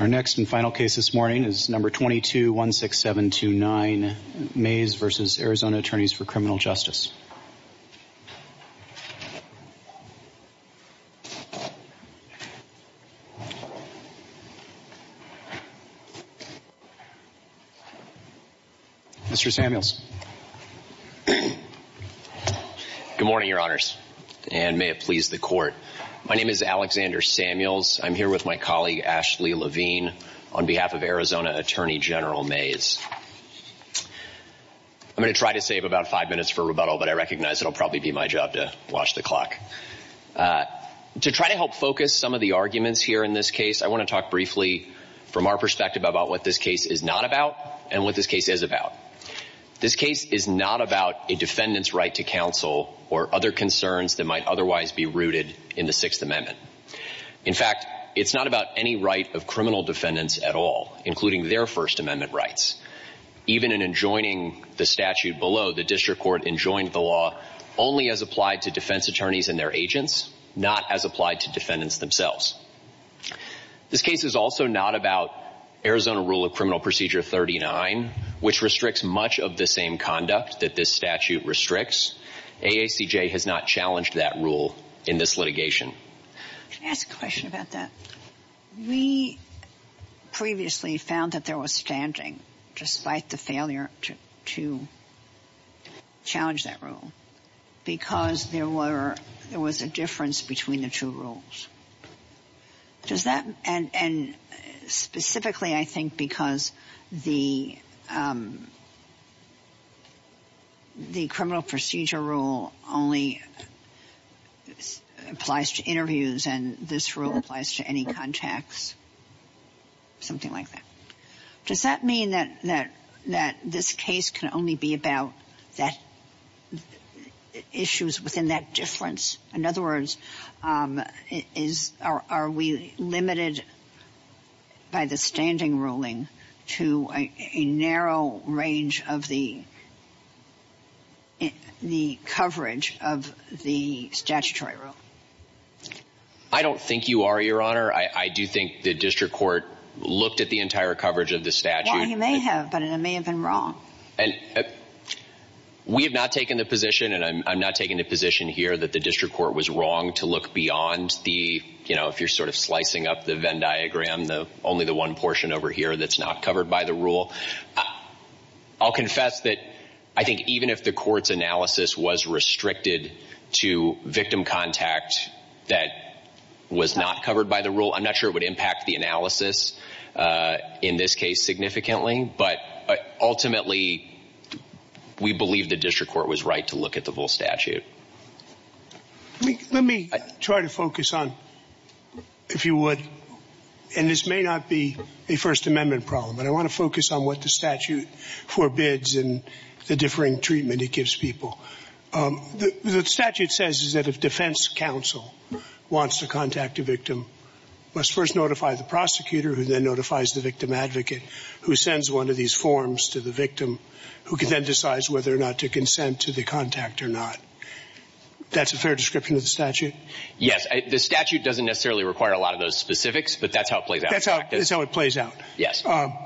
Our next and final case this morning is number 22-16729, Mayes v. Arizona Attorneys for Criminal Justice. Mr. Samuels. Good morning, your honors, and may it please the court. My name is Alexander Samuels. I'm here with my colleague, Ashley Levine, on behalf of Arizona Attorney General Mayes. I'm going to try to save about five minutes for rebuttal, but I recognize it'll probably be my job to watch the clock. To try to help focus some of the arguments here in this case, I want to talk briefly from our perspective about what this case is not about and what this case is about. This case is not about a defendant's right to counsel or other concerns that might otherwise be rooted in the Sixth Amendment. In fact, it's not about any right of criminal defendants at all, including their First Amendment rights. Even in enjoining the statute below, the district court enjoined the law only as applied to defense attorneys and their agents, not as applied to defendants themselves. This case is also not about Arizona Rule of Criminal Procedure 39, which restricts much of the same conduct that this statute restricts. AACJ has not challenged that rule in this litigation. Can I ask a question about that? We previously found that there was stamping, despite the failure to challenge that rule, because there was a difference between the two rules. Does that mean that this case can only be about issues within that difference? In other words, are we limited by the standing ruling to a narrow range of the coverage of the statutory rule? I don't think you are, Your Honor. I do think the district court looked at the entire coverage of the statute. Well, you may have, but it may have been wrong. We have not taken the position, and I'm not taking the position here, that the district court was wrong to look beyond the, you know, if you're sort of slicing up the Venn diagram, only the one portion over here that's not covered by the rule. I'll confess that I think even if the court's analysis was restricted to victim contact that was not covered by the rule, I'm not sure it would impact the analysis in this case significantly, but ultimately, we believe the district court was right to look at the whole statute. Let me try to focus on, if you would, and this may not be a First Amendment problem, but I want to focus on what the statute forbids and the differing treatment it gives people. The statute says that if defense counsel wants to contact a victim, must first notify the victim, who can then decide whether or not to consent to the contact or not. That's the fair description of the statute? Yes. The statute doesn't necessarily require a lot of those specifics, but that's how it plays out. That's how it plays out. Yes. A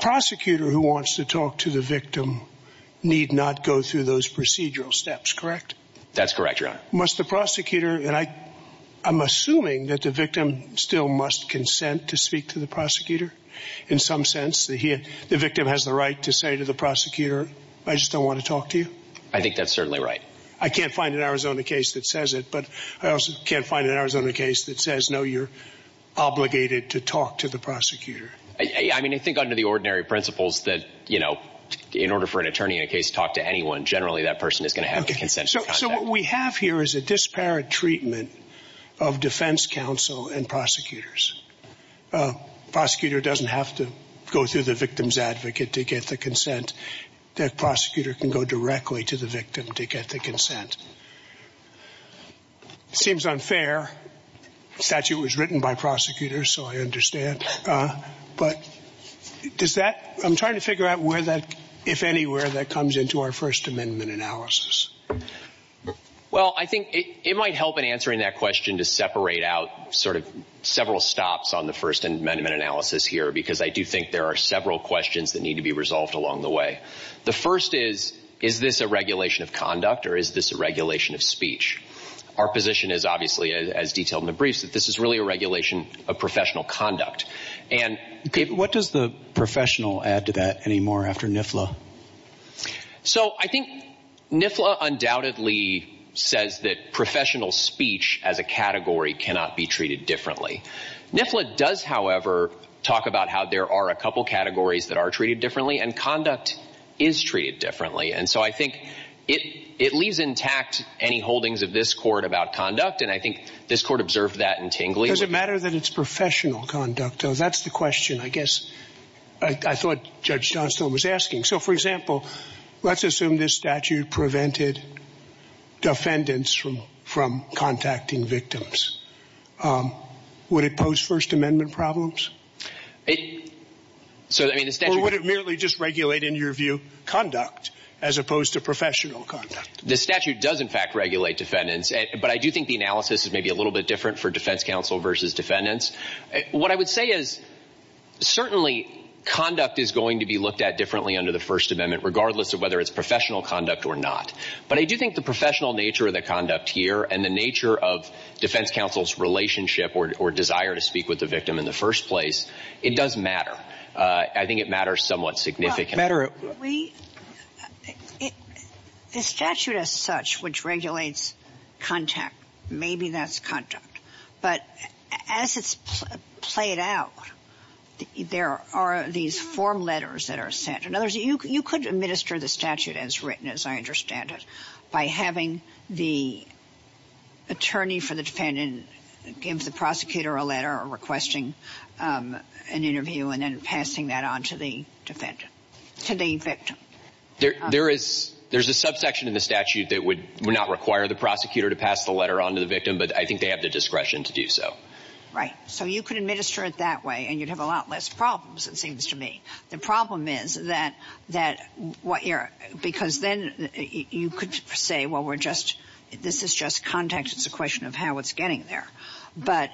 prosecutor who wants to talk to the victim need not go through those procedural steps, correct? That's correct, Your Honor. Must the prosecutor, and I'm assuming that the victim still must consent to speak to the prosecutor in some sense? The victim has the right to say to the prosecutor, I just don't want to talk to you? I think that's certainly right. I can't find an Arizona case that says it, but I also can't find an Arizona case that says no, you're obligated to talk to the prosecutor. I think under the ordinary principles that in order for an attorney in a case to talk to anyone, generally that person is going to have to consent to contact. So what we have here is a disparate treatment of defense counsel and prosecutors. Prosecutor doesn't have to go through the victim's advocate to get the consent. That prosecutor can go directly to the victim to get the consent. Seems unfair. The statute was written by prosecutors, so I understand. But does that, I'm trying to figure out where that, if anywhere, that comes into our First Well, I think it might help in answering that question to separate out sort of several stops on the First Amendment analysis here, because I do think there are several questions that need to be resolved along the way. The first is, is this a regulation of conduct or is this a regulation of speech? Our position is obviously, as detailed in the briefs, that this is really a regulation of professional conduct. And what does the professional add to that anymore after NIFLA? So I think NIFLA undoubtedly says that professional speech as a category cannot be treated differently. NIFLA does, however, talk about how there are a couple categories that are treated differently and conduct is treated differently. And so I think it leaves intact any holdings of this court about conduct, and I think this court observed that intangibly. Does it matter that it's professional conduct, though? That's the question, I guess, I thought Judge Johnstone was asking. So, for example, let's assume this statute prevented defendants from contacting victims. Would it pose First Amendment problems? Or would it merely just regulate, in your view, conduct, as opposed to professional conduct? The statute does in fact regulate defendants, but I do think the analysis is maybe a little bit different for defense counsel versus defendants. What I would say is certainly conduct is going to be looked at differently under the First Amendment regardless of whether it's professional conduct or not. But I do think the professional nature of the conduct here and the nature of defense counsel's relationship or desire to speak with the victim in the first place, it does matter. I think it matters somewhat significantly. The statute as such, which regulates contact, maybe that's conduct. But as it's played out, there are these form letters that are sent. In other words, you could administer the statute as written, as I understand it, by having the attorney for the defendant give the prosecutor a letter or requesting an interview and then to the victim. There is a subsection in the statute that would not require the prosecutor to pass the letter on to the victim, but I think they have the discretion to do so. Right. So you could administer it that way and you'd have a lot less problems, it seems to me. The problem is that, because then you could say, well, this is just context, it's a question of how it's getting there. But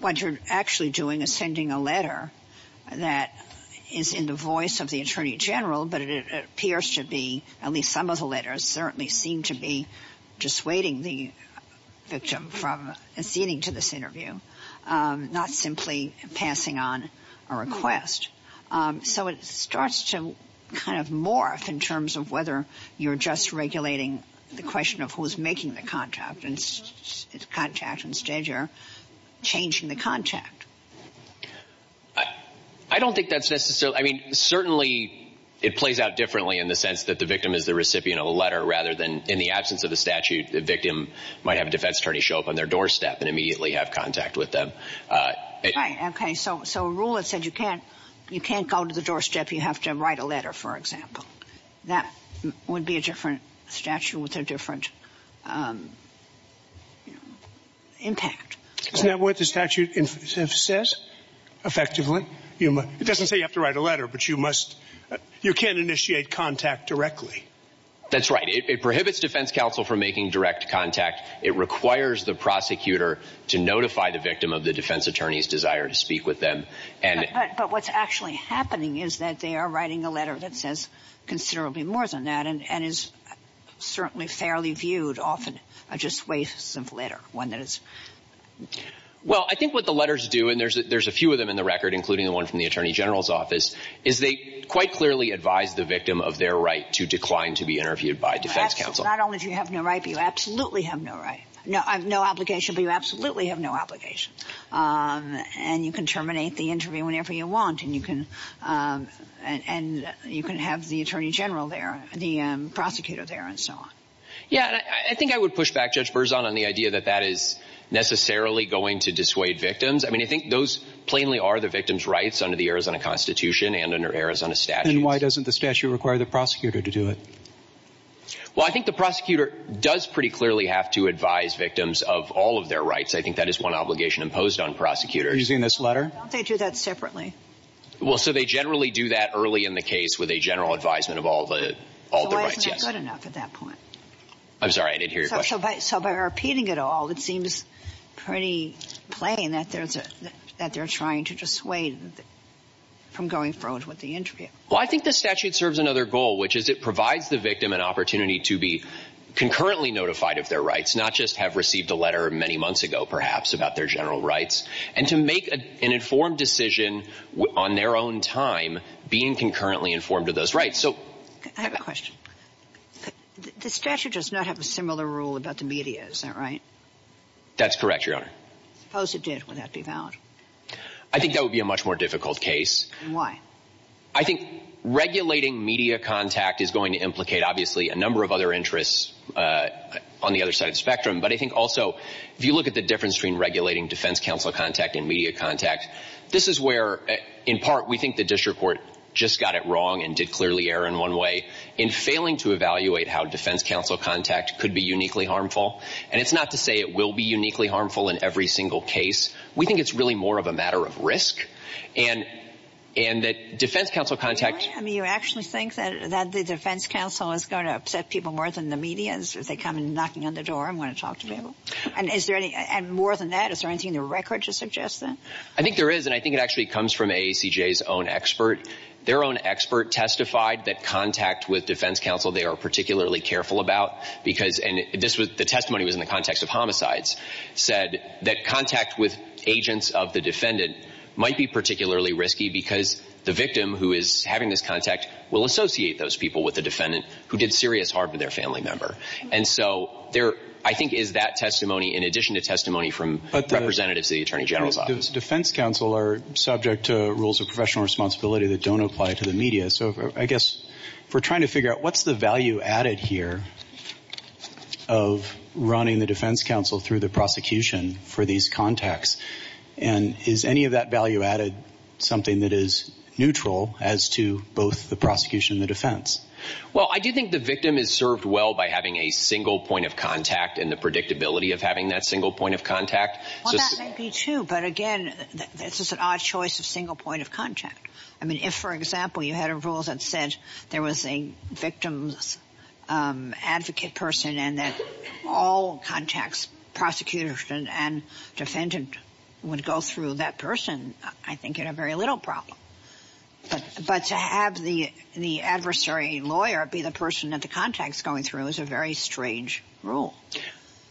what you're actually doing is sending a letter that is in the voice of the attorney general, but it appears to be, at least some of the letters certainly seem to be dissuading the victim from acceding to this interview, not simply passing on a request. So it starts to kind of morph in terms of whether you're just regulating the question of who's making the contact, and it's contact, instead you're changing the contact. I don't think that's necessary. I mean, certainly it plays out differently in the sense that the victim is the recipient of the letter, rather than in the absence of the statute, the victim might have a defense attorney show up on their doorstep and immediately have contact with them. Right. Okay. So a rule that says you can't go to the doorstep, you have to write a letter, for example. That would be a different statute with a different impact. Isn't that what the statute says, effectively? It doesn't say you have to write a letter, but you can't initiate contact directly. That's right. It prohibits defense counsel from making direct contact. It requires the prosecutor to notify the victim of the defense attorney's desire to speak with them. But what's actually happening is that they are writing a letter that says considerably more than that, and is certainly fairly viewed often as just a waste of a letter. Well I think what the letters do, and there's a few of them in the record, including the one from the Attorney General's office, is they quite clearly advise the victim of their right to decline to be interviewed by defense counsel. Not only do you have no right, but you absolutely have no obligation. And you can terminate the interview whenever you want, and you can have the Attorney General there, the prosecutor there, and so on. Yeah, I think I would push back, Judge Berzon, on the idea that that is necessarily going to dissuade victims. I mean, I think those plainly are the victim's rights under the Arizona Constitution and under Arizona statute. And why doesn't the statute require the prosecutor to do it? Well, I think the prosecutor does pretty clearly have to advise victims of all of the their rights. I think that is one obligation imposed on prosecutors. Are you using this letter? They do that separately. Well, so they generally do that early in the case with a general advisement of all their rights, yes. So why isn't it good enough at that point? I'm sorry, I didn't hear your question. So by repeating it all, it seems pretty plain that they're trying to dissuade from going forward with the interview. Well, I think the statute serves another goal, which is it provides the victim an opportunity to be concurrently notified of their rights, not just have received a letter many months ago, perhaps, about their general rights, and to make an informed decision on their own time being concurrently informed of those rights. I have a question. The statute does not have a similar rule about the media, is that right? That's correct, Your Honor. Suppose it did. Would that be valid? I think that would be a much more difficult case. Why? I think regulating media contact is going to implicate, obviously, a number of other interests on the other side of the spectrum, but I think also if you look at the difference between regulating defense counsel contact and media contact, this is where, in part, we think the district court just got it wrong and did clearly err in one way. In failing to evaluate how defense counsel contact could be uniquely harmful, and it's not to say it will be uniquely harmful in every single case, we think it's really more of a matter of risk, and that defense counsel contact... I mean, you actually think that the defense counsel is going to upset people more than the media? Is that they come in knocking on the door and want to talk to people? And more than that, is there anything in the records that suggests that? I think there is, and I think it actually comes from AACJ's own expert. Their own expert testified that contact with defense counsel they are particularly careful about, and the testimony was in the context of homicides, said that contact with agents of the defendant might be particularly risky because the victim who is having this contact will associate those people with the defendant who did serious harm to their family member. And so there, I think, is that testimony in addition to testimony from representatives of the Attorney General's office. But the defense counsel are subject to rules of professional responsibility that don't apply to the media, so I guess we're trying to figure out what's the value added here of running the defense counsel through the prosecution for these contacts? And is any of that value added something that is neutral as to both the prosecution and the defense? Well, I do think the victim is served well by having a single point of contact and the predictability of having that single point of contact. Well, that may be true, but again, this is an odd choice of single point of contact. I mean, if, for example, you had a rule that said there was a victim's advocate person and that all contacts, prosecutors and defendants, would go through that person, I think you would have very little problem. But to have the adversary lawyer be the person that the contact is going through is a very strange rule.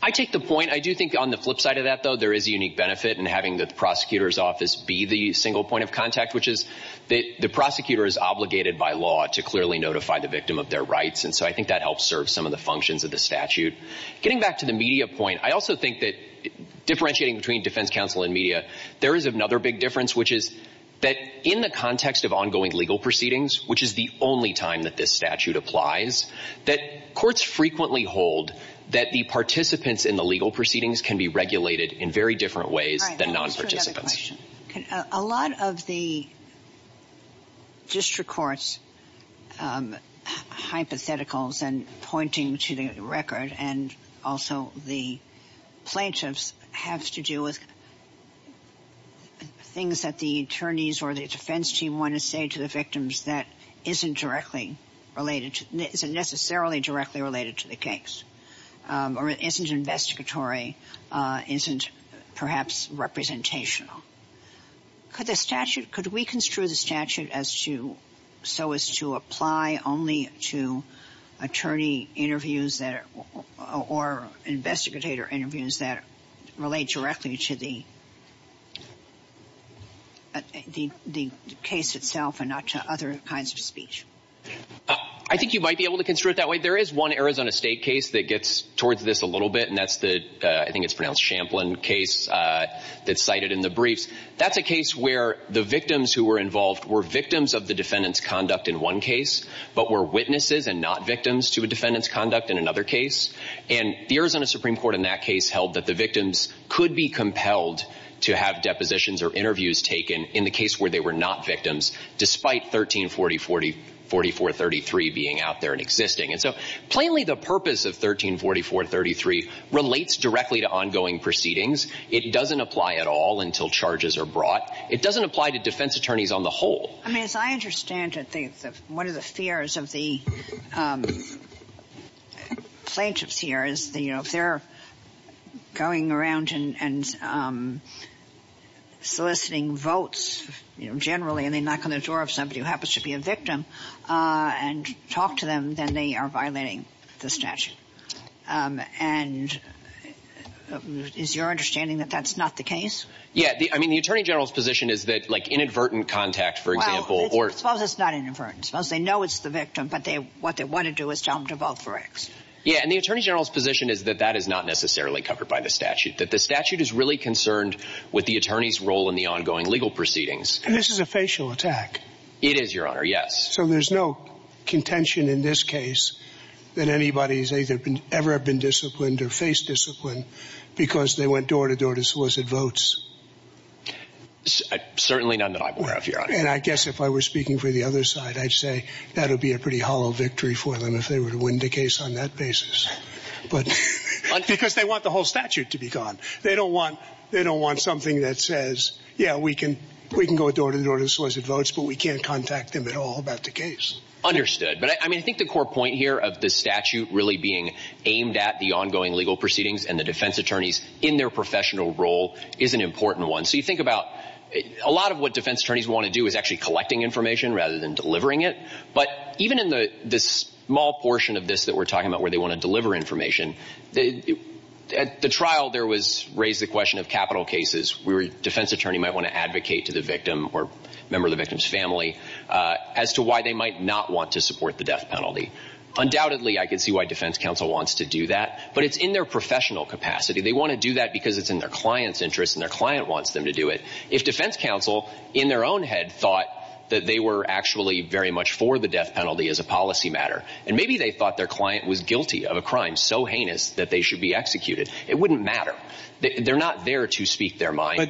I take the point. I do think on the flip side of that, though, there is a unique benefit in having the prosecutor's be the single point of contact, which is the prosecutor is obligated by law to clearly notify the victim of their rights, and so I think that helps serve some of the functions of the statute. Getting back to the media point, I also think that differentiating between defense counsel and media, there is another big difference, which is that in the context of ongoing legal proceedings, which is the only time that this statute applies, that courts frequently hold that the participants in the legal proceedings can be regulated in very different ways than non-predictable. A lot of the district courts' hypotheticals and pointing to the record and also the plaintiffs have to do with things that the attorneys or the defense team want to say to the victims that isn't necessarily directly related to the case or isn't investigatory, isn't perhaps representational. Could we construe the statute so as to apply only to attorney interviews or investigator interviews that relate directly to the case itself and not to other kinds of speech? I think you might be able to construe it that way. There is one Arizona State case that gets towards this a little bit, and that's the Champlin case that's cited in the briefs. That's a case where the victims who were involved were victims of the defendant's conduct in one case, but were witnesses and not victims to a defendant's conduct in another case. And the Arizona Supreme Court in that case held that the victims could be compelled to have depositions or interviews taken in the case where they were not victims, despite 1340-4433 being out there and existing. Plainly the purpose of 1340-433 relates directly to ongoing proceedings. It doesn't apply at all until charges are brought. It doesn't apply to defense attorneys on the whole. As I understand it, one of the fears of the plaintiffs here is if they're going around and soliciting votes generally and they knock on the door of somebody who happens to be a victim and talk to them, then they are violating the statute. And is your understanding that that's not the case? Yeah, I mean, the Attorney General's position is that inadvertent contact, for example... Well, it's not inadvertent. They know it's the victim, but what they want to do is tell them to vote for X. Yeah, and the Attorney General's position is that that is not necessarily covered by the statute, that the statute is really concerned with the attorney's role in the ongoing legal proceedings. And this is a facial attack. It is, Your Honor, yes. So there's no contention in this case that anybody has ever been disciplined or face disciplined because they went door-to-door to solicit votes. Certainly none that I'm aware of, Your Honor. And I guess if I were speaking for the other side, I'd say that would be a pretty hollow victory for them if they were to win the case on that basis. Because they want the whole statute to be gone. They don't want something that says, yeah, we can go door-to-door to solicit votes, but we can't contact them at all about the case. Understood. But I mean, I think the core point here of the statute really being aimed at the ongoing legal proceedings and the defense attorneys in their professional role is an important one. So you think about a lot of what defense attorneys want to do is actually collecting information rather than delivering it. But even in the small portion of this that we're talking about where they want to deliver information, at the trial there was raised the question of capital cases where a defense attorney might want to advocate to the victim or member of the victim's family as to why they might not want to support the death penalty. Undoubtedly, I could see why defense counsel wants to do that, but it's in their professional capacity. They want to do that because it's in their client's interest and their client wants them to do it. If defense counsel in their own head thought that they were actually very much for the death penalty as a policy matter, and maybe they thought their client was guilty of a crime so heinous that they should be executed, it wouldn't matter. They're not there to speak their mind.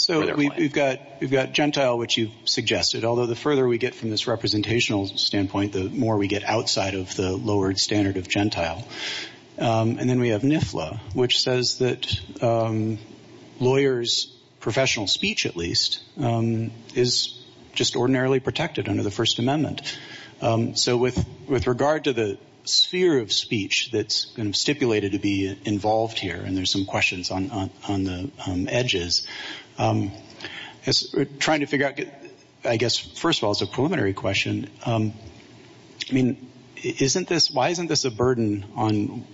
So we've got Gentile, which you've suggested, although the further we get from this representational standpoint, the more we get outside of the lowered standard of Gentile. And then we have NIFLA, which says that lawyers, professional speech at least, is just ordinarily protected under the First Amendment. So with regard to the sphere of speech that's been stipulated to be involved here, and there's some questions on the edges, trying to figure out, I guess, first of all, it's a preliminary question. I mean, why isn't this a burden on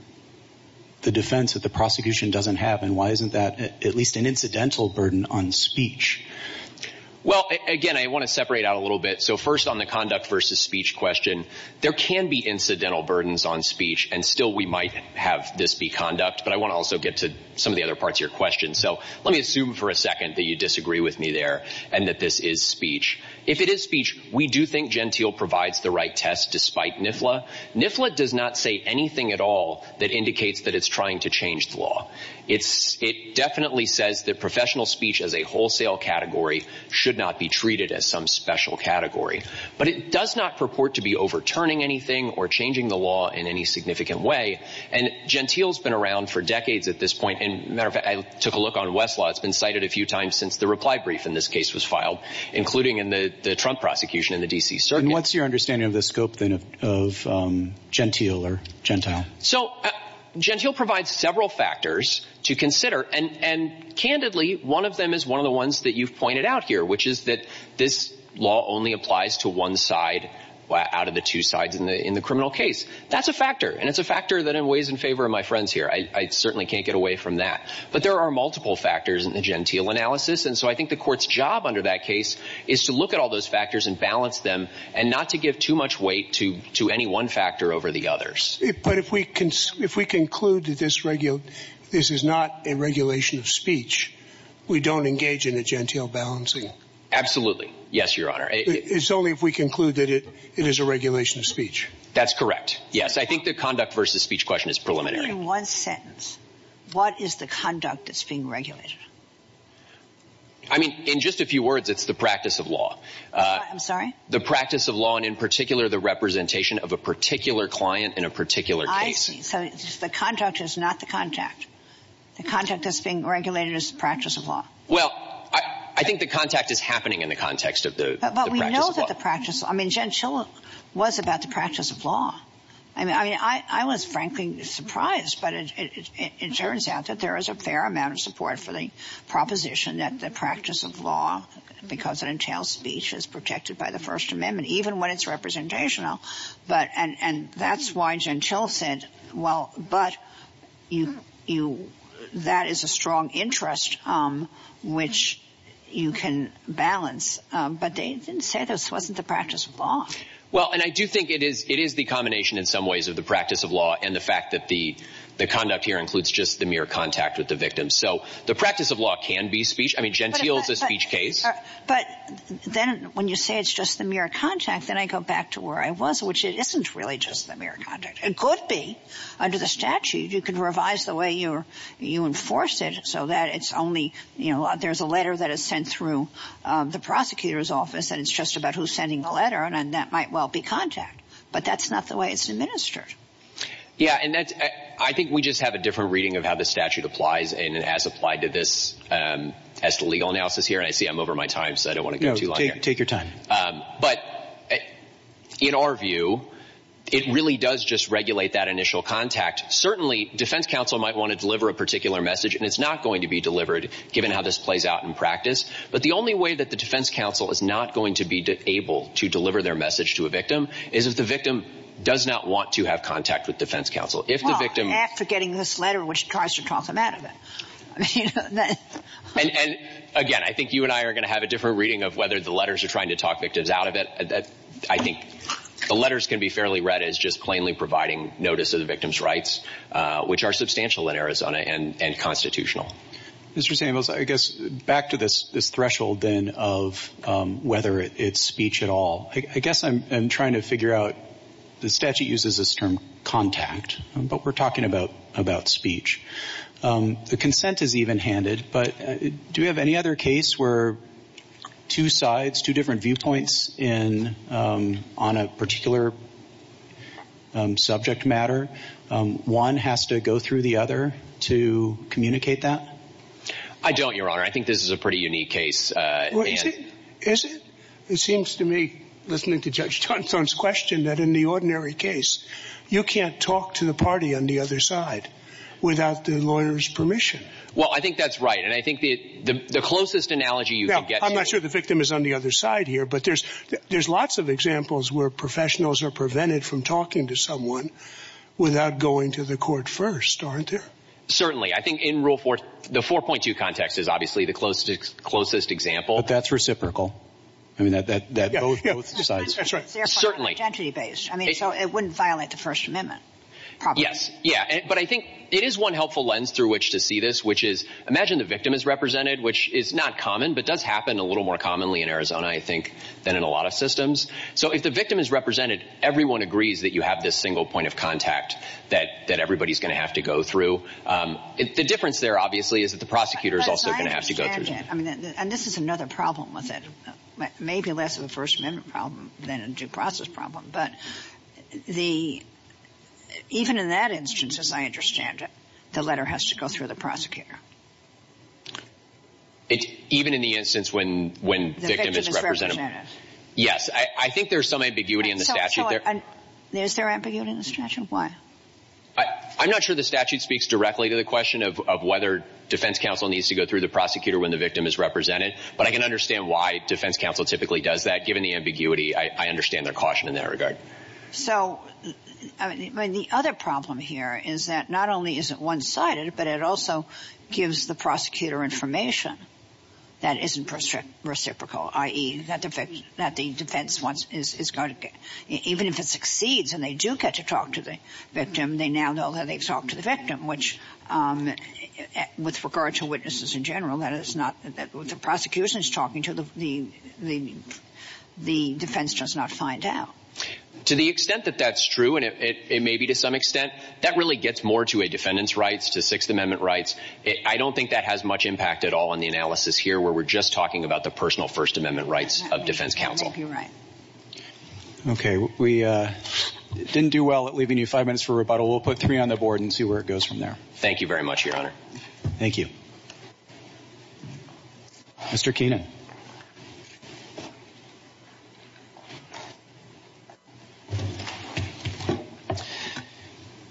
the defense that the prosecution doesn't have, and why isn't that at least an incidental burden on speech? Well, again, I want to separate out a little bit. So first on the conduct versus speech question, there can be incidental burdens on speech, and still we might have this be conduct, but I want to also get to some of the other parts of your question. So let me assume for a second that you disagree with me there and that this is speech. If it is speech, we do think Gentile provides the right test despite NIFLA. NIFLA does not say anything at all that indicates that it's trying to change the law. It definitely says that professional speech as a wholesale category should not be treated as some special category. But it does not purport to be overturning anything or changing the law in any significant way. And Gentile's been around for decades at this point. And as a matter of fact, I took a look on Westlaw. It's been cited a few times since the reply brief in this case was filed, including in the Trump prosecution in the D.C. circuit. And what's your understanding of the scope of Gentile? So Gentile provides several factors to consider, and candidly, one of them is one of the ones that you've pointed out here, which is that this law only applies to one side out of the two sides in the criminal case. That's a factor. And it's a factor that weighs in favor of my friends here. I certainly can't get away from that. But there are multiple factors in the Gentile analysis. And so I think the court's job under that case is to look at all those factors and balance them and not to give too much weight to any one factor over the others. But if we conclude that this is not a regulation of speech, we don't engage in a Gentile balancing. Absolutely. Yes, Your Honor. It's only if we conclude that it is a regulation of speech. That's correct. Yes, I think the conduct versus speech question is preliminary. In one sentence, what is the conduct that's being regulated? I mean, in just a few words, it's the practice of law. I'm sorry? The practice of law, and in particular, the representation of a particular client in a particular case. I see. So the contract is not the contract. The contract that's being regulated is the practice of law. Well, I think the contact is happening in the context of the practice of law. But we know that the practice, I mean, Gentile was about the practice of law. I mean, I was frankly surprised, but it turns out that there is a fair amount of support for the proposition that the practice of law, because it entails speech, is protected by the First Amendment, even when it's representational. And that's why Gentile said, well, but that is a strong interest, which you can balance. But they didn't say this wasn't the practice of law. Well, and I do think it is the combination in some ways of the practice of law and the fact that the conduct here includes just the mere contact with the victim. So the practice of law can be speech. I mean, Gentile is a speech case. But then when you say it's just the mere contact, then I go back to where I was, which it isn't really just the mere contact. It could be. Under the statute, you can revise the way you enforce it so that it's only, you know, there's a letter that is sent through the prosecutor's office, and it's just about who's sending the letter, and that might well be contact. But that's not the way it's administered. Yeah, and that's, I think we just have a different reading of how the statute applies and has applied to this as to legal analysis here. And I see I'm over my time, so I don't want to go too long. No, take your time. But in our view, it really does just regulate that initial contact. Certainly, defense counsel might want to deliver a particular message, and it's not going to be delivered given how this plays out in practice. But the only way that the defense counsel is not going to be able to deliver their message to a victim is if the victim does not want to have contact with defense counsel. Well, after getting this letter, which tries to talk them out of it. And again, I think you and I are going to have a different reading of whether the letters you're trying to talk victims out of it. I think the letters can be fairly read as just plainly providing notice of the victim's rights, which are substantial in Arizona and constitutional. Mr. Samuels, I guess back to this threshold then of whether it's speech at all, I guess I'm trying to figure out, the statute uses this term contact, but we're talking about speech. The consent is even-handed, but do we have any other case where two sides, two different viewpoints on a particular subject matter, one has to go through the other to communicate that? I don't, Your Honor. I think this is a pretty unique case. Is it? It seems to me, listening to Judge Johnstone's question, that in the ordinary case, you can't talk to the party on the other side without the lawyer's permission. Well, I think that's right, and I think the closest analogy you can get to- I'm not sure the victim is on the other side here, but there's lots of examples where professionals are prevented from talking to someone without going to the court first, aren't there? Certainly. I think in Rule 4, the 4.2 context is obviously the closest example. But that's reciprocal. I mean, that goes both sides. That's right. Certainly. Identity-based. I mean, so it wouldn't violate the First Amendment, probably. Yeah, but I think it is one helpful lens through which to see this, which is imagine the victim is represented, which is not common, but does happen a little more commonly in Arizona, I think, than in a lot of systems. So if the victim is represented, everyone agrees that you have this single point of contact that everybody is going to have to go through. The difference there, obviously, is that the prosecutor is also going to have to go through. I understand that, and this is another problem with it, maybe less of a First Amendment problem than a due process problem. But even in that instance, as I understand it, the letter has to go through the prosecutor. Even in the instance when the victim is represented? Yes, I think there's some ambiguity in the statute there. Is there ambiguity in the statute? Why? I'm not sure the statute speaks directly to the question of whether defense counsel needs to go through the prosecutor when the victim is represented, but I can understand why defense counsel typically does that. Given the ambiguity, I understand their caution in that regard. So the other problem here is that not only is it one-sided, but it also gives the prosecutor information that isn't reciprocal, i.e., that the defense, even if it succeeds and they do get to talk to the victim, they now know that they've talked to the victim. Which, with regard to witnesses in general, when the prosecution is talking to them, the defense does not find out. To the extent that that's true, and maybe to some extent, that really gets more to a defendant's rights, to Sixth Amendment rights. I don't think that has much impact at all in the analysis here, where we're just talking about the personal First Amendment rights of defense counsel. Okay. We didn't do well at leaving you five minutes for rebuttal. We'll put three on the board and see where it goes from there. Thank you very much, Your Honor. Thank you. Mr. Keenan.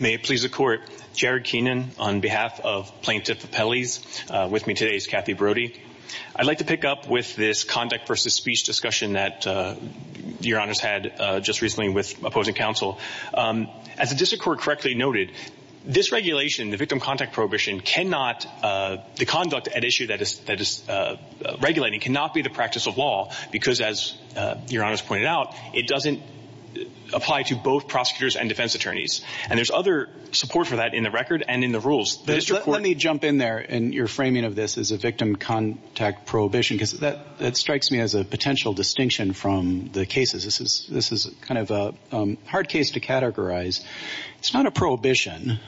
May it please the Court, Jared Keenan on behalf of Plaintiff Appellees. With me today is Kathy Brody. I'd like to pick up with this conduct versus speech discussion that Your Honor's had just recently with opposing counsel. As the District Court correctly noted, this regulation, the victim contact prohibition, cannot, the conduct at issue that is regulating, cannot be the practice of law, because as Your Honor's pointed out, it doesn't apply to both prosecutors and defense attorneys. And there's other support for that in the record and in the rules. Let me jump in there in your framing of this as a victim contact prohibition, because that strikes me as a potential distinction from the cases. This is kind of a hard case to categorize. It's not a prohibition,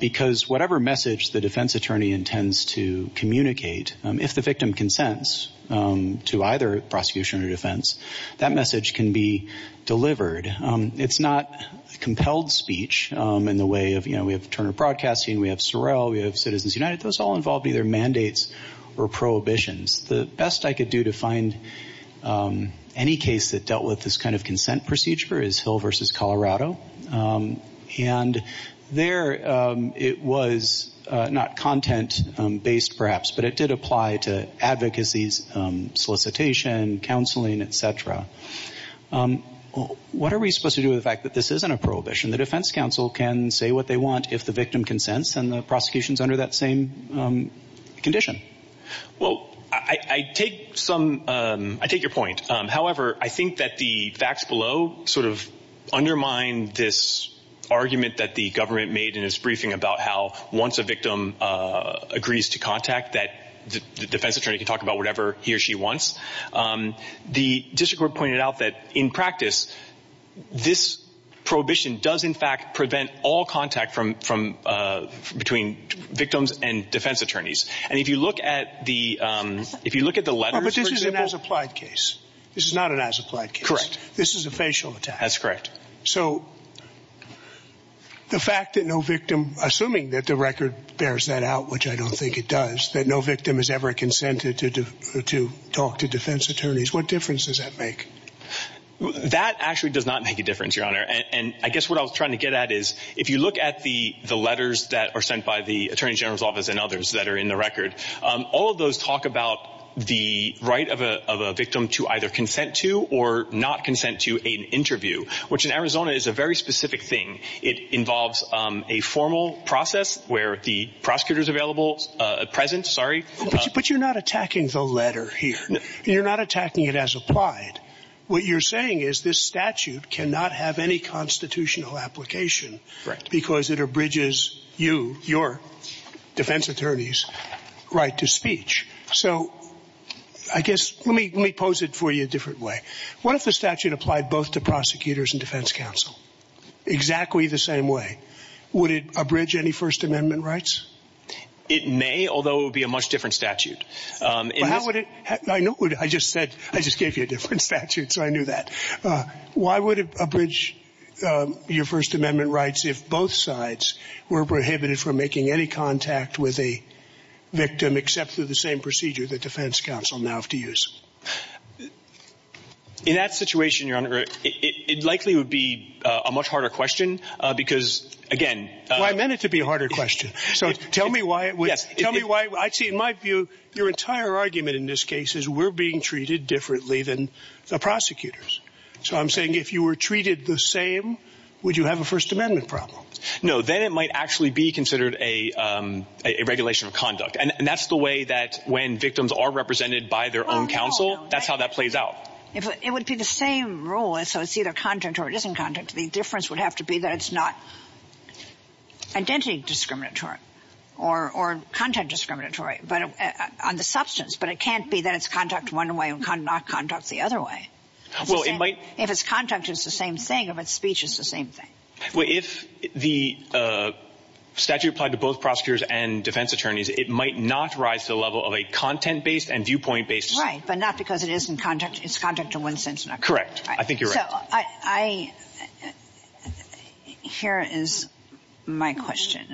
because whatever message the defense attorney intends to communicate, if the victim consents to either prosecution or defense, that message can be delivered. It's not compelled speech in the way of, you know, we have Turner Broadcasting, we have Sorrell, we have Citizens United. Those all involve either mandates or prohibitions. The best I could do to find any case that dealt with this kind of consent procedure is Hill v. Colorado, and there it was not content-based, perhaps, but it did apply to advocacies, solicitation, counseling, et cetera. What are we supposed to do with the fact that this isn't a prohibition? The defense counsel can say what they want if the victim consents, and the prosecution is under that same condition. Well, I take your point. However, I think that the facts below sort of undermine this argument that the government made in its briefing about how once a victim agrees to contact, that the defense attorney can talk about whatever he or she wants. The district court pointed out that, in practice, this prohibition does, in fact, prevent all contact between victims and defense attorneys. And if you look at the letters, for example— But this is an as-applied case. This is not an as-applied case. Correct. This is a facial attack. That's correct. So the fact that no victim, assuming that the record bears that out, which I don't think it does, that no victim has ever consented to talk to defense attorneys, what difference does that make? That actually does not make a difference, Your Honor. And I guess what I was trying to get at is, if you look at the letters that are sent by the attorney general's office and others that are in the record, all of those talk about the right of a victim to either consent to or not consent to an interview, which in Arizona is a very specific thing. It involves a formal process where the prosecutor's available—present, sorry. But you're not attacking the letter here. You're not attacking it as applied. What you're saying is this statute cannot have any constitutional application because it abridges you, your defense attorneys' right to speech. So I guess—let me pose it for you a different way. What if the statute applied both to prosecutors and defense counsel? Exactly the same way. Would it abridge any First Amendment rights? It may, although it would be a much different statute. Why would it—I just said—I just gave you a different statute, so I knew that. Why would it abridge your First Amendment rights if both sides were prohibited from making any contact with a victim except for the same procedure that defense counsel now have to use? In that situation, Your Honor, it likely would be a much harder question because, again— Well, I meant it to be a harder question. So tell me why it would—tell me why—I see in my view your entire argument in this case is we're being treated differently than the prosecutors. So I'm saying if you were treated the same, would you have a First Amendment problem? No, then it might actually be considered a regulation of conduct. And that's the way that when victims are represented by their own counsel, that's how that plays out. It would be the same rule. So it's either contact or it isn't contact. The difference would have to be that it's not identity discriminatory or content discriminatory on the substance. But it can't be that it's contact one way and not contact the other way. If it's contact, it's the same thing. If it's speech, it's the same thing. Well, if the statute applied to both prosecutors and defense attorneys, it might not rise to the level of a content-based and viewpoint-based— Right, but not because it isn't contact. It's contact in one sense and another. Correct. I think you're right. So I—here is my question.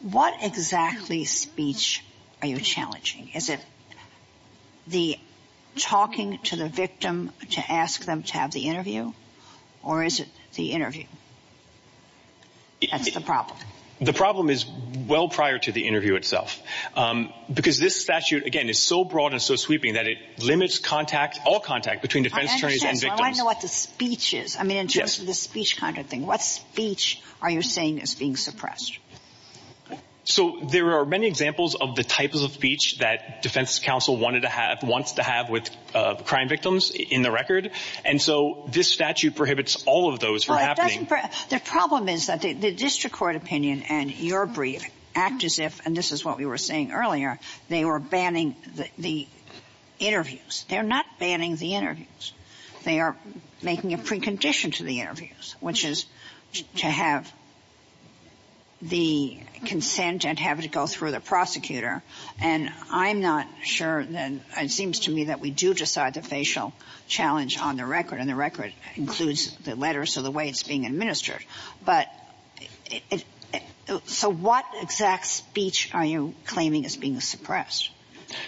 What exactly speech are you challenging? Is it the talking to the victim to ask them to have the interview? Or is it the interview? That's the problem. The problem is well prior to the interview itself. Because this statute, again, is so broad and so sweeping that it limits all contact between defense attorneys and victims. I understand. Well, I know what the speech is. I mean, in terms of the speech kind of thing, what speech are you saying is being suppressed? So there are many examples of the type of speech that defense counsel wants to have with crime victims in the record. And so this statute prohibits all of those from happening. The problem is that the district court opinion and your brief act as if—and this is what we were saying earlier— they were banning the interviews. They're not banning the interviews. They are making a precondition to the interviews, which is to have the consent and to have it go through the prosecutor. And I'm not sure—it seems to me that we do decide the facial challenge on the record, and the record includes the letters of the way it's being administered. But—so what exact speech are you claiming is being suppressed?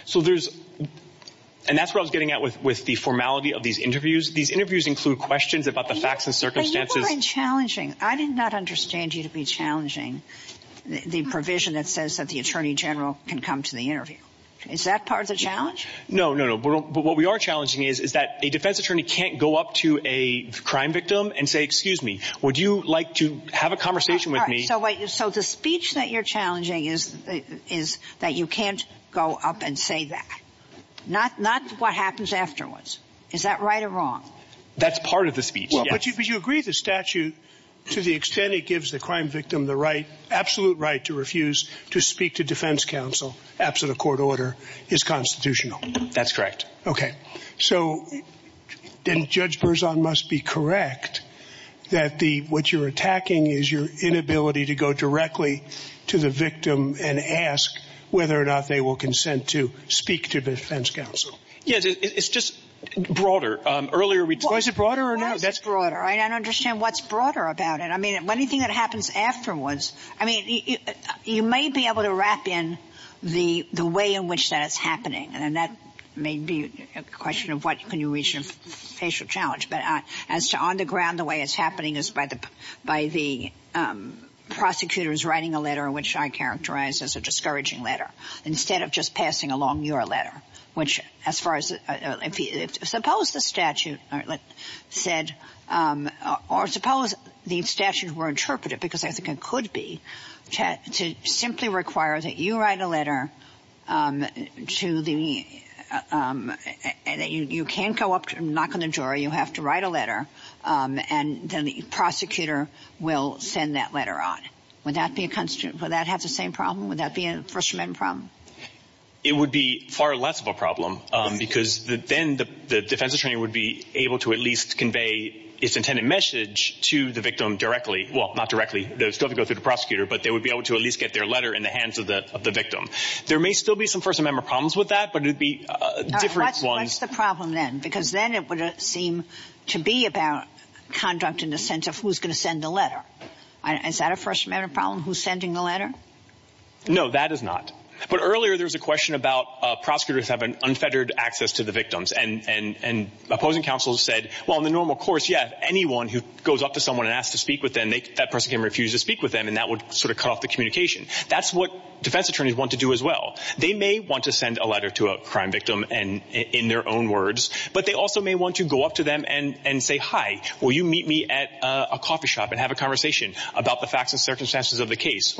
So there's—and that's where I was getting at with the formality of these interviews. These interviews include questions about the facts and circumstances— But you've been challenging—I did not understand you to be challenging the provision that says that the attorney general can come to the interview. Is that part of the challenge? No, no, no. But what we are challenging is that a defense attorney can't go up to a crime victim and say, excuse me, would you like to have a conversation with me? So the speech that you're challenging is that you can't go up and say that. Not what happens afterwards. Is that right or wrong? That's part of the speech. But you agree the statute, to the extent it gives the crime victim the right— absolute right to refuse to speak to defense counsel after the court order, is constitutional. That's correct. Okay. So then Judge Berzon must be correct that what you're attacking is your inability to go directly to the victim and ask whether or not they will consent to speak to defense counsel. Yes, it's just broader. Earlier we— Well, is it broader or not? That's broader. I don't understand what's broader about it. I mean, anything that happens afterwards—I mean, you may be able to wrap in the way in which that's happening, and that may be a question of what can you reach as a facial challenge. But as to on the ground, the way it's happening is by the prosecutors writing a letter, which I characterize as a discouraging letter, instead of just passing along your letter. Which, as far as—suppose the statute said—or suppose the statute were interpreted, because I think it could be, to simply require that you write a letter to the—you can't go up and knock on the door. You have to write a letter, and then the prosecutor will send that letter on. Would that have the same problem? Would that be a frustrating problem? It would be far less of a problem because then the defense attorney would be able to at least convey its intended message to the victim directly—well, not directly. They would still have to go to the prosecutor, but they would be able to at least get their letter in the hands of the victim. There may still be some First Amendment problems with that, but it would be different ones. What's the problem then? Because then it would seem to be about conduct in the sense of who's going to send the letter. Is that a First Amendment problem, who's sending the letter? No, that is not. But earlier there was a question about prosecutors having unfettered access to the victims, and opposing counsels said, well, in the normal course, yes, anyone who goes up to someone and asks to speak with them, that person can refuse to speak with them, and that would sort of cut off the communication. That's what defense attorneys want to do as well. They may want to send a letter to a crime victim in their own words, but they also may want to go up to them and say, hi, will you meet me at a coffee shop and have a conversation about the facts and circumstances of the case?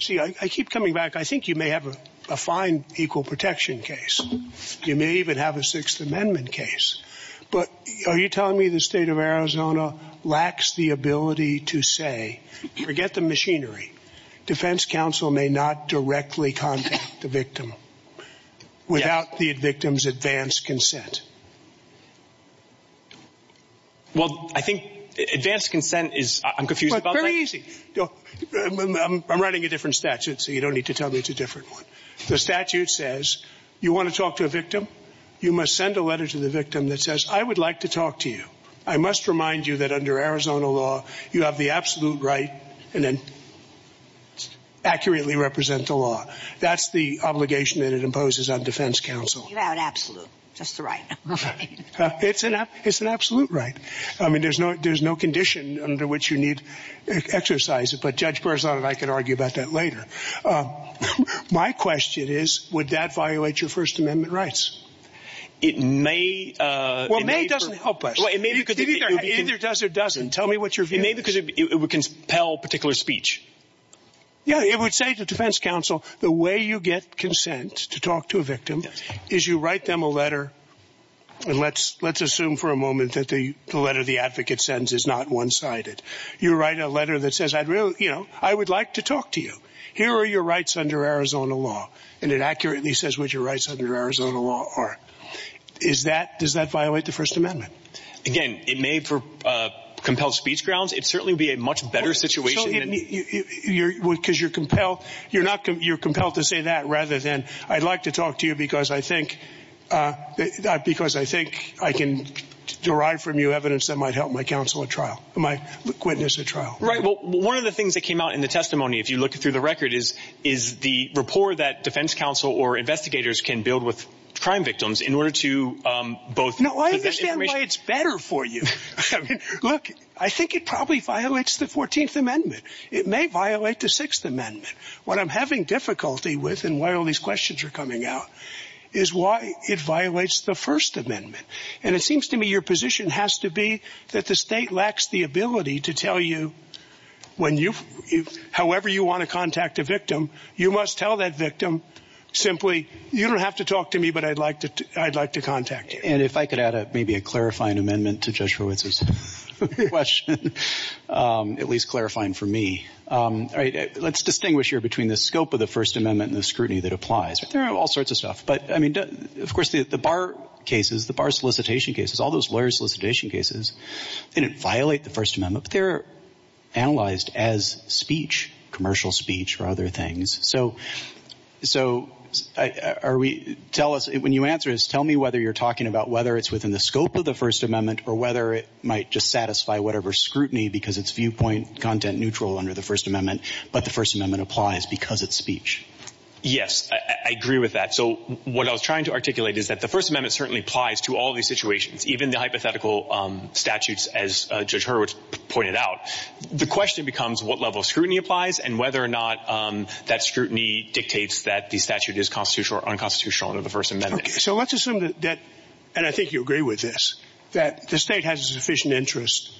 See, I keep coming back. I think you may have a fine equal protection case. You may even have a Sixth Amendment case. But are you telling me the state of Arizona lacks the ability to say, forget the machinery, defense counsel may not directly contact the victim without the victim's advanced consent? Well, I think advanced consent is, I'm confused about that. Well, it's very easy. I'm writing a different statute, so you don't need to tell me it's a different one. The statute says, you want to talk to a victim? You must send a letter to the victim that says, I would like to talk to you. I must remind you that under Arizona law, you have the absolute right to accurately represent the law. That's the obligation that it imposes on defense counsel. You have an absolute. That's the right. It's an absolute right. I mean, there's no condition under which you need to exercise it. But Judge Berzon and I can argue about that later. My question is, would that violate your First Amendment rights? It may. Well, may doesn't help us. Either does or doesn't. Tell me what your view is. It may because it would compel particular speech. Yeah, it would say to defense counsel, the way you get consent to talk to a victim is you write them a letter. And let's let's assume for a moment that the letter the advocate sends is not one sided. You write a letter that says, I really, you know, I would like to talk to you. Here are your rights under Arizona law. And it accurately says what your rights under Arizona law are. Is that does that violate the First Amendment? Again, it may for compelled speech grounds. It certainly would be a much better situation because you're compelled. You're not. You're compelled to say that rather than I'd like to talk to you because I think that because I think I can derive from you evidence that might help my counsel a trial. My witness a trial. Right. Well, one of the things that came out in the testimony, if you look through the record, is is the rapport that defense counsel or investigators can build with crime victims in order to both. No, I understand why it's better for you. Look, I think it probably violates the 14th Amendment. It may violate the Sixth Amendment. What I'm having difficulty with and why all these questions are coming out is why it violates the First Amendment. And it seems to me your position has to be that the state lacks the ability to tell you when you however you want to contact a victim. You must tell that victim simply you don't have to talk to me, but I'd like to I'd like to contact you. And if I could add up maybe a clarifying amendment to Joshua's question, at least clarifying for me. All right. Let's distinguish here between the scope of the First Amendment and the scrutiny that applies. There are all sorts of stuff. But I mean, of course, the bar cases, the bar solicitation cases, all those lawyers solicitation cases didn't violate the First Amendment. They're analyzed as speech, commercial speech or other things. So so are we tell us when you answer is tell me whether you're talking about whether it's within the scope of the First Amendment or whether it might just satisfy whatever scrutiny because it's viewpoint content neutral under the First Amendment. But the First Amendment applies because it's speech. Yes, I agree with that. So what I was trying to articulate is that the First Amendment certainly applies to all these situations, even the hypothetical statutes, as Judge Hurwitz pointed out. The question becomes what level of scrutiny applies and whether or not that scrutiny dictates that the statute is constitutional or unconstitutional under the First Amendment. So let's assume that. And I think you agree with this, that the state has a sufficient interest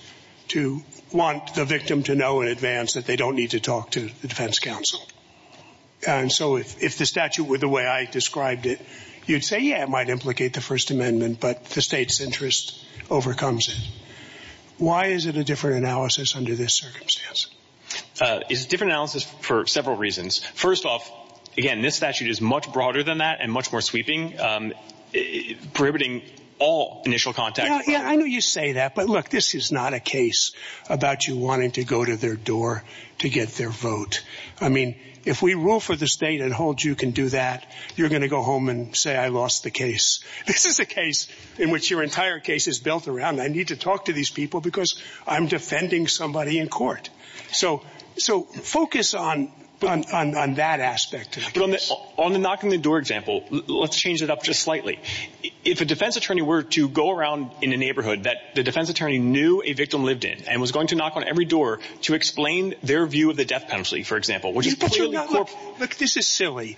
to want the victim to know in advance that they don't need to talk to the defense counsel. And so if the statute were the way I described it, you'd say, yeah, it might implicate the First Amendment, but the state's interest overcomes. Why is it a different analysis under this circumstance? It's a different analysis for several reasons. First off, again, this statute is much broader than that and much more sweeping, prohibiting all initial contact. Yeah, I know you say that. But look, this is not a case about you wanting to go to their door to get their vote. I mean, if we rule for the state and hold you can do that. You're going to go home and say, I lost the case. This is a case in which your entire case is built around. I need to talk to these people because I'm defending somebody in court. So so focus on on that aspect. But on the knock on the door example, let's change it up just slightly. If a defense attorney were to go around in the neighborhood that the defense attorney knew a victim lived in and was going to knock on every door to explain their view of the death penalty, for example. This is silly.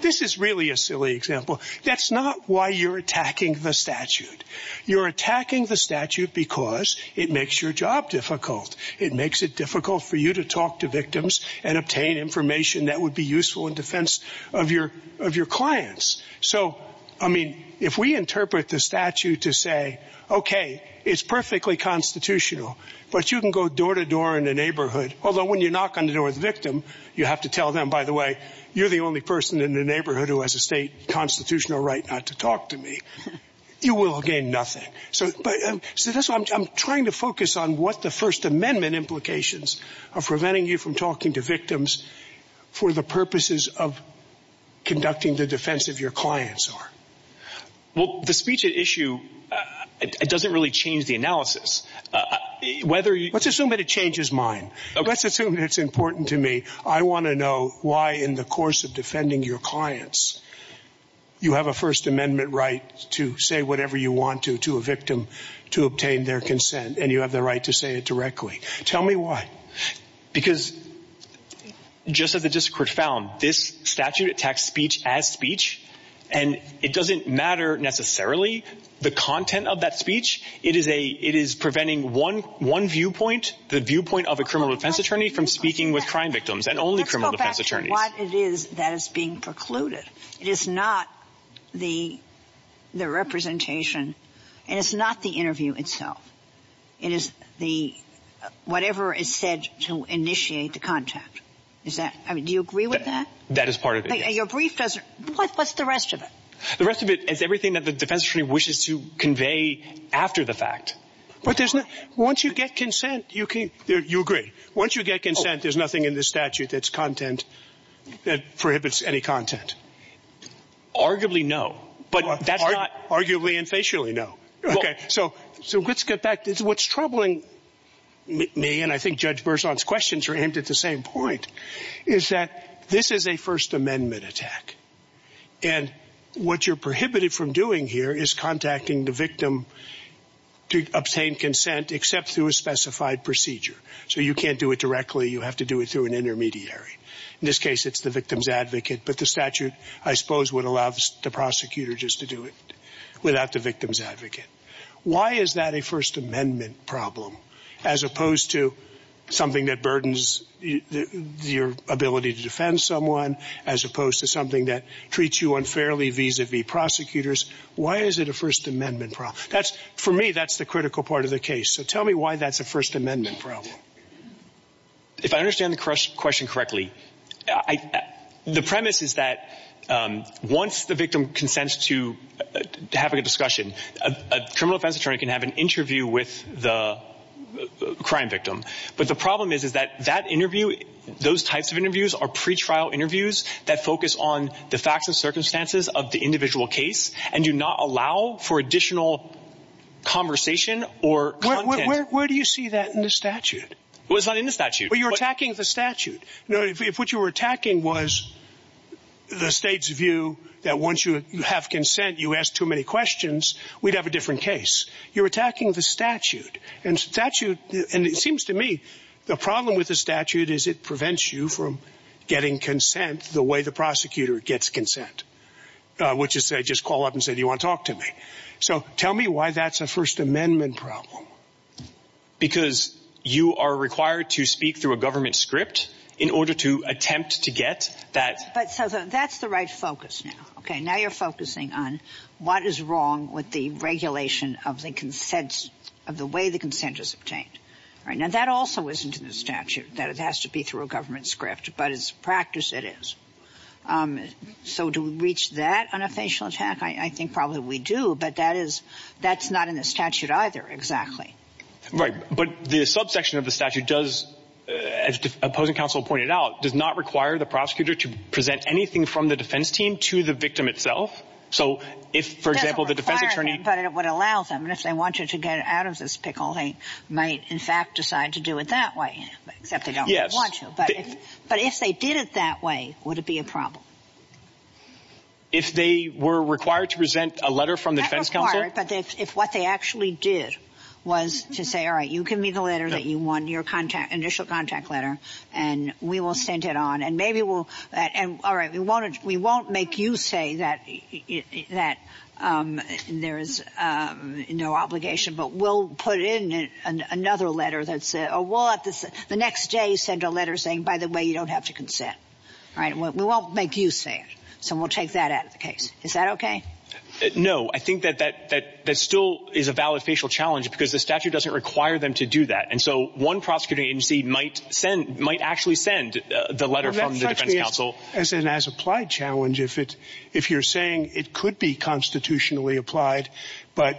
This is really a silly example. That's not why you're attacking the statute. You're attacking the statute because it makes your job difficult. It makes it difficult for you to talk to victims and obtain information that would be useful in defense of your of your clients. So, I mean, if we interpret the statute to say, OK, it's perfectly constitutional, but you can go door to door in the neighborhood. Although when you knock on the door of the victim, you have to tell them, by the way, you're the only person in the neighborhood who has a state constitutional right not to talk to me. You will gain nothing. So that's why I'm trying to focus on what the First Amendment implications of preventing you from talking to victims for the purposes of conducting the defense of your clients. Well, the speech at issue, it doesn't really change the analysis, whether you assume that it changes mine. Let's assume it's important to me. I want to know why in the course of defending your clients, you have a First Amendment right to say whatever you want to to a victim to obtain their consent. And you have the right to say it directly. Tell me why. Because just as the district found this statute attacks speech as speech, and it doesn't matter necessarily the content of that speech. It is a it is preventing one one viewpoint, the viewpoint of a criminal defense attorney from speaking with crime victims and only criminal defense attorney. That is being precluded. It is not the the representation. It's not the interview itself. It is the whatever is said to initiate the contact. Is that do you agree with that? That is part of your brief. What's the rest of it? The rest of it is everything that the defense attorney wishes to convey after the fact. But once you get consent, you can you agree once you get consent, there's nothing in the statute that's content that prohibits any content. Arguably, no, but that's not arguably and facially. No. So let's get back to what's troubling me. And I think Judge Burzon's questions are aimed at the same point, is that this is a First Amendment attack. And what you're prohibited from doing here is contacting the victim to obtain consent, except through a specified procedure. So you can't do it directly. You have to do it through an intermediary. In this case, it's the victim's advocate. But the statute, I suppose, would allow the prosecutor just to do it without the victim's advocate. Why is that a First Amendment problem as opposed to something that burdens your ability to defend someone as opposed to something that treats you unfairly vis-a-vis prosecutors? Why is it a First Amendment problem? That's for me. That's the critical part of the case. So tell me why that's a First Amendment problem. If I understand the question correctly, the premise is that once the victim consents to having a discussion, a criminal defense attorney can have an interview with the crime victim. But the problem is that that interview, those types of interviews are pre-trial interviews that focus on the facts and circumstances of the individual case and do not allow for additional conversation or content. Where do you see that in the statute? Well, it's not in the statute. Well, you're attacking the statute. If what you were attacking was the state's view that once you have consent, you ask too many questions, we'd have a different case. You're attacking the statute. And it seems to me the problem with the statute is it prevents you from getting consent the way the prosecutor gets consent, which is they just call up and say, do you want to talk to me? So tell me why that's a First Amendment problem. Because you are required to speak through a government script in order to attempt to get that. But that's the right focus. Now you're focusing on what is wrong with the regulation of the way the consent is obtained. Now that also isn't in the statute, that it has to be through a government script, but it's practice it is. So to reach that on a facial attack, I think probably we do, but that's not in the statute either, exactly. Right, but the subsection of the statute does, as opposing counsel pointed out, does not require the prosecutor to present anything from the defense team to the victim itself. It doesn't require anything, but it would allow them. And if they want you to get out of this pickle, they might in fact decide to do it that way, except they don't want to. But if they did it that way, would it be a problem? If they were required to present a letter from the defense counsel? Not required, but if what they actually did was to say, all right, you can meet the letter that you want, your initial contact letter, and we will send it on. All right, we won't make you say that there is no obligation, but we'll put in another letter that says, the next day send a letter saying, by the way, you don't have to consent. All right, we won't make you say it, so we'll take that out of the case. Is that okay? No, I think that still is a valid facial challenge because the statute doesn't require them to do that. And so one prosecuting agency might actually send the letter from the defense counsel. That's an as-applied challenge if you're saying it could be constitutionally applied, but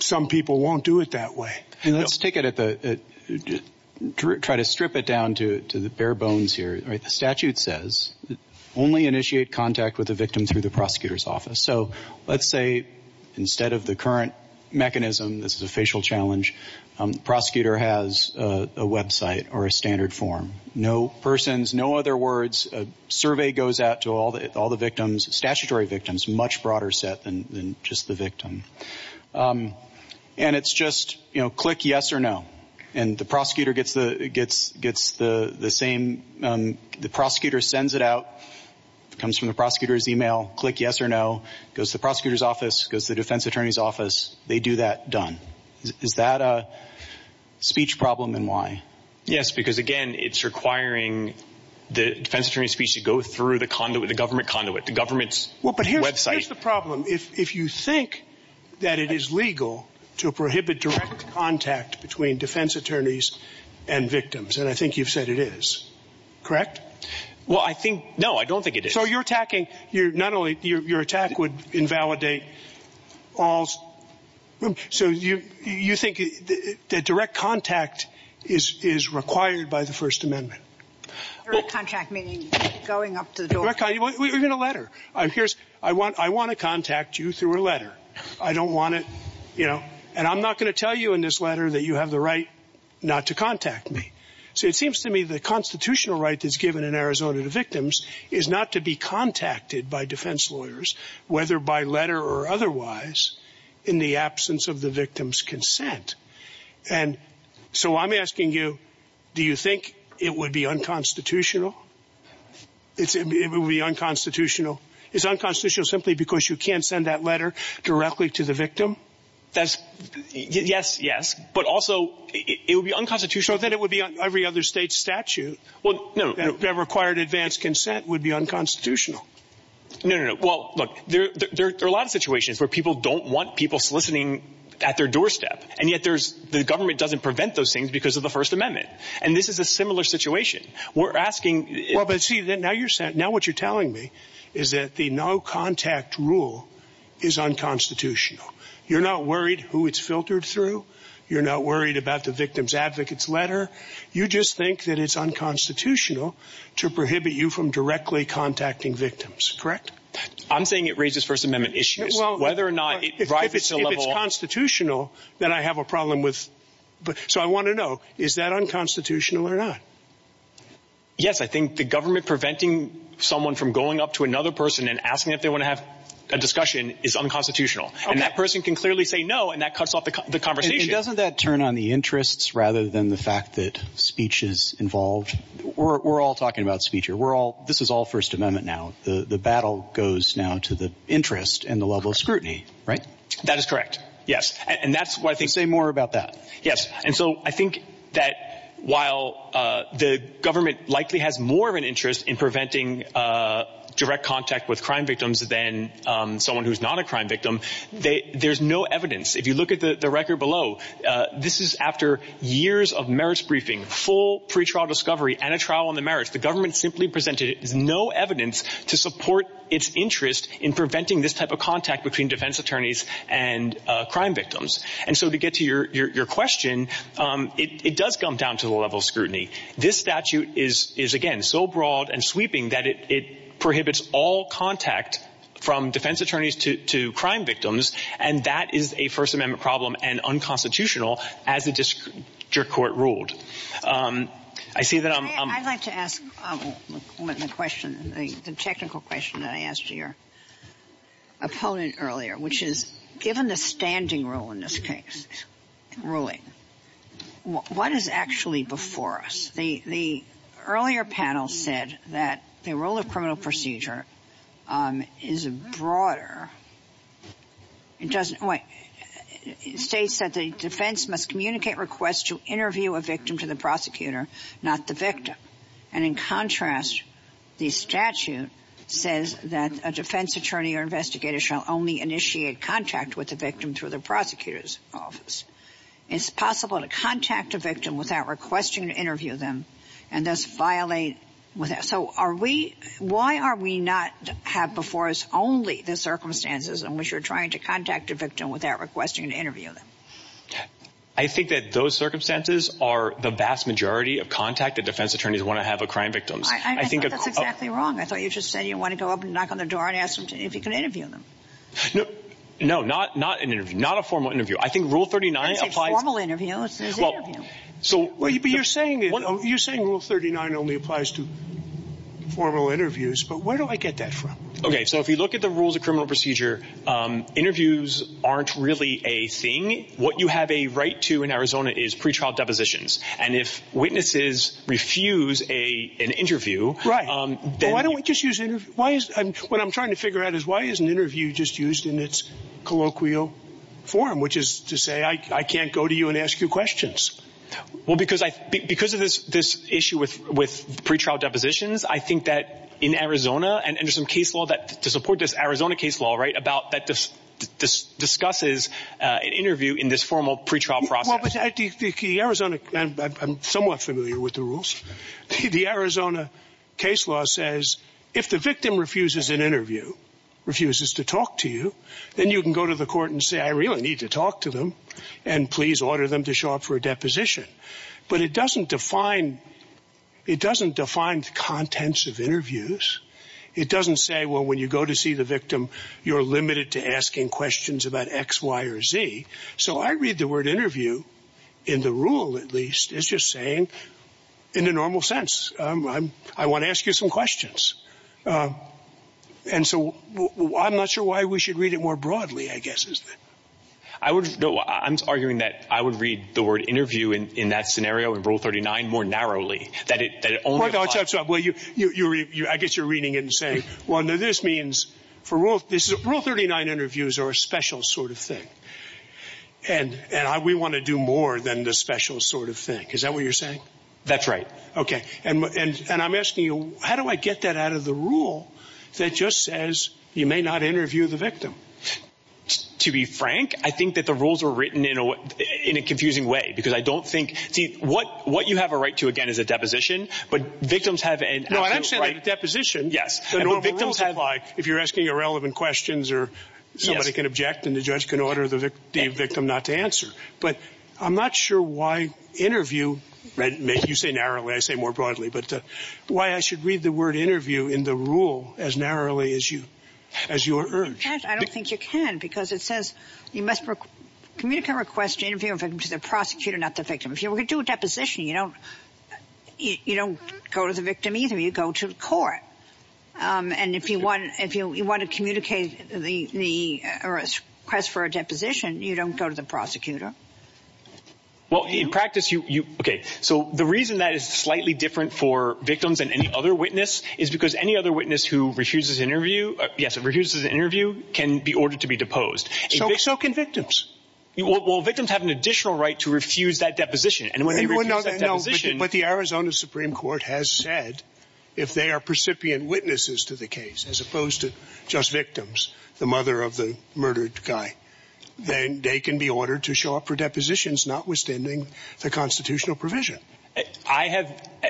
some people won't do it that way. Let's try to strip it down to the bare bones here. The statute says only initiate contact with the victim through the prosecutor's office. So let's say instead of the current mechanism, this is a facial challenge, the prosecutor has a website or a standard form. No persons, no other words, a survey goes out to all the victims, statutory victims, much broader set than just the victim. And it's just click yes or no. And the prosecutor sends it out, comes from the prosecutor's email, click yes or no, goes to the prosecutor's office, goes to the defense attorney's office, they do that, done. Is that a speech problem and why? Yes, because again, it's requiring the defense attorney's speech to go through the government conduit, the government's website. But here's the problem. If you think that it is legal to prohibit direct contact between defense attorneys and victims, and I think you've said it is, correct? No, I don't think it is. So you're attacking, not only, your attack would invalidate all, so you think that direct contact is required by the First Amendment? Direct contact meaning going up to the door? Direct contact, even a letter. I want to contact you through a letter. I don't want to, you know, and I'm not going to tell you in this letter that you have the right not to contact me. So it seems to me the constitutional right that's given in Arizona to victims is not to be contacted by defense lawyers, whether by letter or otherwise, in the absence of the victim's consent. And so I'm asking you, do you think it would be unconstitutional? It would be unconstitutional. It's unconstitutional simply because you can't send that letter directly to the victim? Yes, yes. But also, it would be unconstitutional if it would be on every other state statute. Well, no. That required advanced consent would be unconstitutional. No, no, no. Well, look, there are a lot of situations where people don't want people soliciting at their doorstep, and yet the government doesn't prevent those things because of the First Amendment. And this is a similar situation. We're asking... Well, but see, now what you're telling me is that the no contact rule is unconstitutional. You're not worried who it's filtered through. You're not worried about the victim's advocate's letter. You just think that it's unconstitutional to prohibit you from directly contacting victims, correct? I'm saying it raises First Amendment issues, whether or not it... If it's constitutional, then I have a problem with... So I want to know, is that unconstitutional or not? Yes, I think the government preventing someone from going up to another person and asking if they want to have a discussion is unconstitutional. And that person can clearly say no, and that cuts off the conversation. And doesn't that turn on the interests rather than the fact that speech is involved? We're all talking about speech here. We're all... This is all First Amendment now. The battle goes now to the interest and the level of scrutiny, right? That is correct, yes. And that's why I think... Say more about that. Yes. And so I think that while the government likely has more of an interest in preventing direct contact with crime victims than someone who's not a crime victim, there's no evidence. If you look at the record below, this is after years of merits briefing, full pre-trial discovery, and a trial on the merits. The government simply presented no evidence to support its interest in preventing this type of contact between defense attorneys and crime victims. And so to get to your question, it does come down to the level of scrutiny. This statute is, again, so broad and sweeping that it prohibits all contact from defense attorneys to crime victims. And that is a First Amendment problem and unconstitutional as the district court ruled. I see that I'm... What is actually before us? The earlier panel said that the role of criminal procedure is broader. It states that the defense must communicate requests to interview a victim to the prosecutor, not the victim. And in contrast, the statute says that a defense attorney or investigator shall only initiate contact with the victim through the prosecutor's office. It's possible to contact a victim without requesting to interview them and thus violate... So are we... Why are we not have before us only the circumstances in which you're trying to contact a victim without requesting to interview them? I think that those circumstances are the vast majority of contact that defense attorneys want to have with crime victims. I think that's exactly wrong. I thought you just said you want to go up and knock on their door and ask them if you can interview them. No, not an interview, not a formal interview. I think Rule 39 applies... I think a formal interview is an interview. But you're saying Rule 39 only applies to formal interviews, but where do I get that from? Okay, so if you look at the rules of criminal procedure, interviews aren't really a thing. What you have a right to in Arizona is pretrial depositions. And if witnesses refuse an interview... Right. What I'm trying to figure out is why isn't an interview just used in its colloquial form, which is to say I can't go to you and ask you questions. Well, because of this issue with pretrial depositions, I think that in Arizona, and there's some case law to support this Arizona case law, right, that discusses an interview in this formal pretrial process. I'm somewhat familiar with the rules. The Arizona case law says if the victim refuses an interview, refuses to talk to you, then you can go to the court and say, I really need to talk to them, and please order them to show up for a deposition. But it doesn't define the contents of interviews. It doesn't say, well, when you go to see the victim, you're limited to asking questions about X, Y, or Z. So I read the word interview in the rule, at least, as just saying in the normal sense. I want to ask you some questions. And so I'm not sure why we should read it more broadly, I guess. I'm arguing that I would read the word interview in that scenario, in Rule 39, more narrowly. I guess you're reading it and saying, well, this means, Rule 39 interviews are a special sort of thing. And we want to do more than the special sort of thing. Is that what you're saying? That's right. Okay. And I'm asking you, how do I get that out of the rule that just says you may not interview the victim? To be frank, I think that the rules were written in a confusing way. Because I don't think – what you have a right to, again, is a deposition. But victims have – No, I don't see it as a deposition. Yes. And the rules apply if you're asking irrelevant questions or somebody can object and the judge can order the victim not to answer. But I'm not sure why interview – you say narrowly, I say more broadly. But why I should read the word interview in the rule as narrowly as your urge? I don't think you can because it says you must communicate a request to interview a victim to the prosecutor, not the victim. If you were to do a deposition, you don't go to the victim either. You go to the court. And if you want to communicate the request for a deposition, you don't go to the prosecutor. Well, in practice, you – okay. So the reason that is slightly different for victims than any other witness is because any other witness who refuses interview – Yes, who refuses an interview can be ordered to be deposed. So can victims. Well, victims have an additional right to refuse that deposition. But the Arizona Supreme Court has said if they are precipient witnesses to the case as opposed to just victims, the mother of the murdered guy, then they can be ordered to show up for depositions notwithstanding the constitutional provision. I have –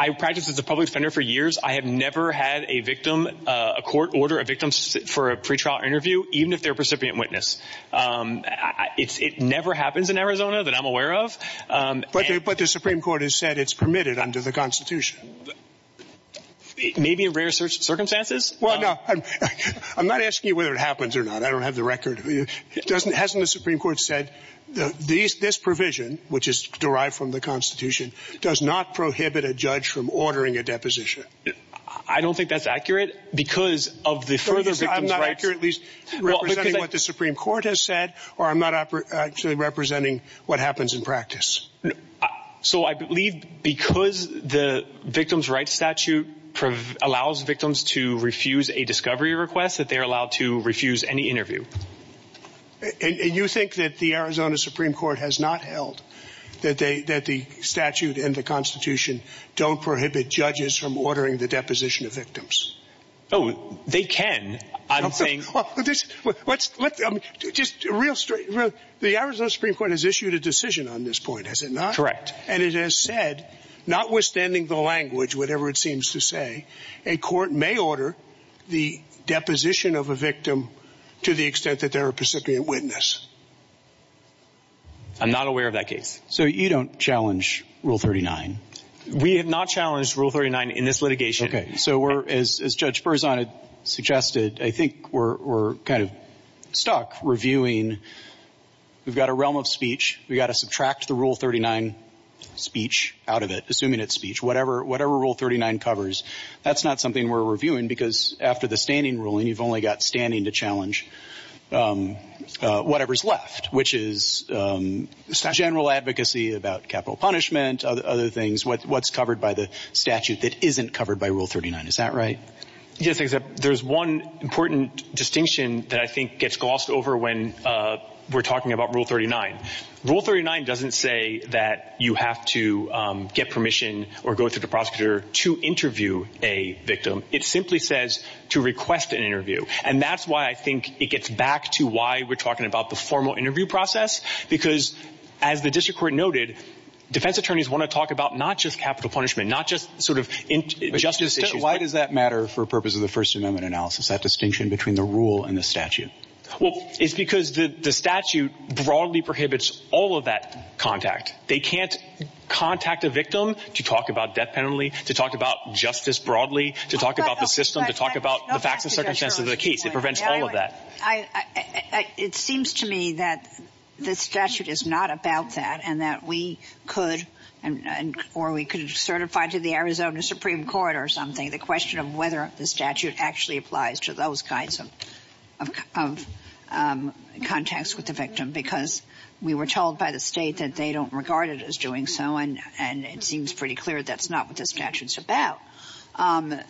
I practiced as a public defender for years. I have never had a victim – a court order a victim for a pretrial interview even if they're a precipient witness. It never happens in Arizona that I'm aware of. But the Supreme Court has said it's permitted under the Constitution. Maybe in rare circumstances. Well, I'm not asking you whether it happens or not. I don't have the record. Hasn't the Supreme Court said this provision, which is derived from the Constitution, does not prohibit a judge from ordering a deposition? I don't think that's accurate because of the further – I'm not accurate at least representing what the Supreme Court has said, or I'm not actually representing what happens in practice. So I believe because the Victims' Rights Statute allows victims to refuse a discovery request that they're allowed to refuse any interview. And you think that the Arizona Supreme Court has not held that the statute and the Constitution don't prohibit judges from ordering the deposition of victims? Oh, they can. The Arizona Supreme Court has issued a decision on this point, has it not? Correct. And it has said, notwithstanding the language, whatever it seems to say, a court may order the deposition of a victim to the extent that they're a precipient witness. I'm not aware of that case. So you don't challenge Rule 39? We have not challenged Rule 39 in this litigation. Okay. So as Judge Berzon had suggested, I think we're kind of stuck reviewing – we've got a realm of speech. We've got to subtract the Rule 39 speech out of it, assuming it's speech, whatever Rule 39 covers. That's not something we're reviewing because after the standing ruling, you've only got standing to challenge whatever's left, which is general advocacy about capital punishment, other things, what's covered by the statute that isn't covered by Rule 39. Is that right? Yes. There's one important distinction that I think gets glossed over when we're talking about Rule 39. Rule 39 doesn't say that you have to get permission or go to the prosecutor to interview a victim. It simply says to request an interview. And that's why I think it gets back to why we're talking about the formal interview process because, as the district court noted, defense attorneys want to talk about not just capital punishment, not just sort of justice issues. Why does that matter for purpose of the First Amendment analysis, that distinction between the rule and the statute? Well, it's because the statute broadly prohibits all of that contact. They can't contact a victim to talk about death penalty, to talk about justice broadly, to talk about the system, to talk about the facts and circumstances of the case. It prevents all of that. It seems to me that the statute is not about that and that we could, or we could certify to the Arizona Supreme Court or something, the question of whether the statute actually applies to those kinds of contacts with the victim because we were told by the state that they don't regard it as doing so, and it seems pretty clear that's not what the statute's about.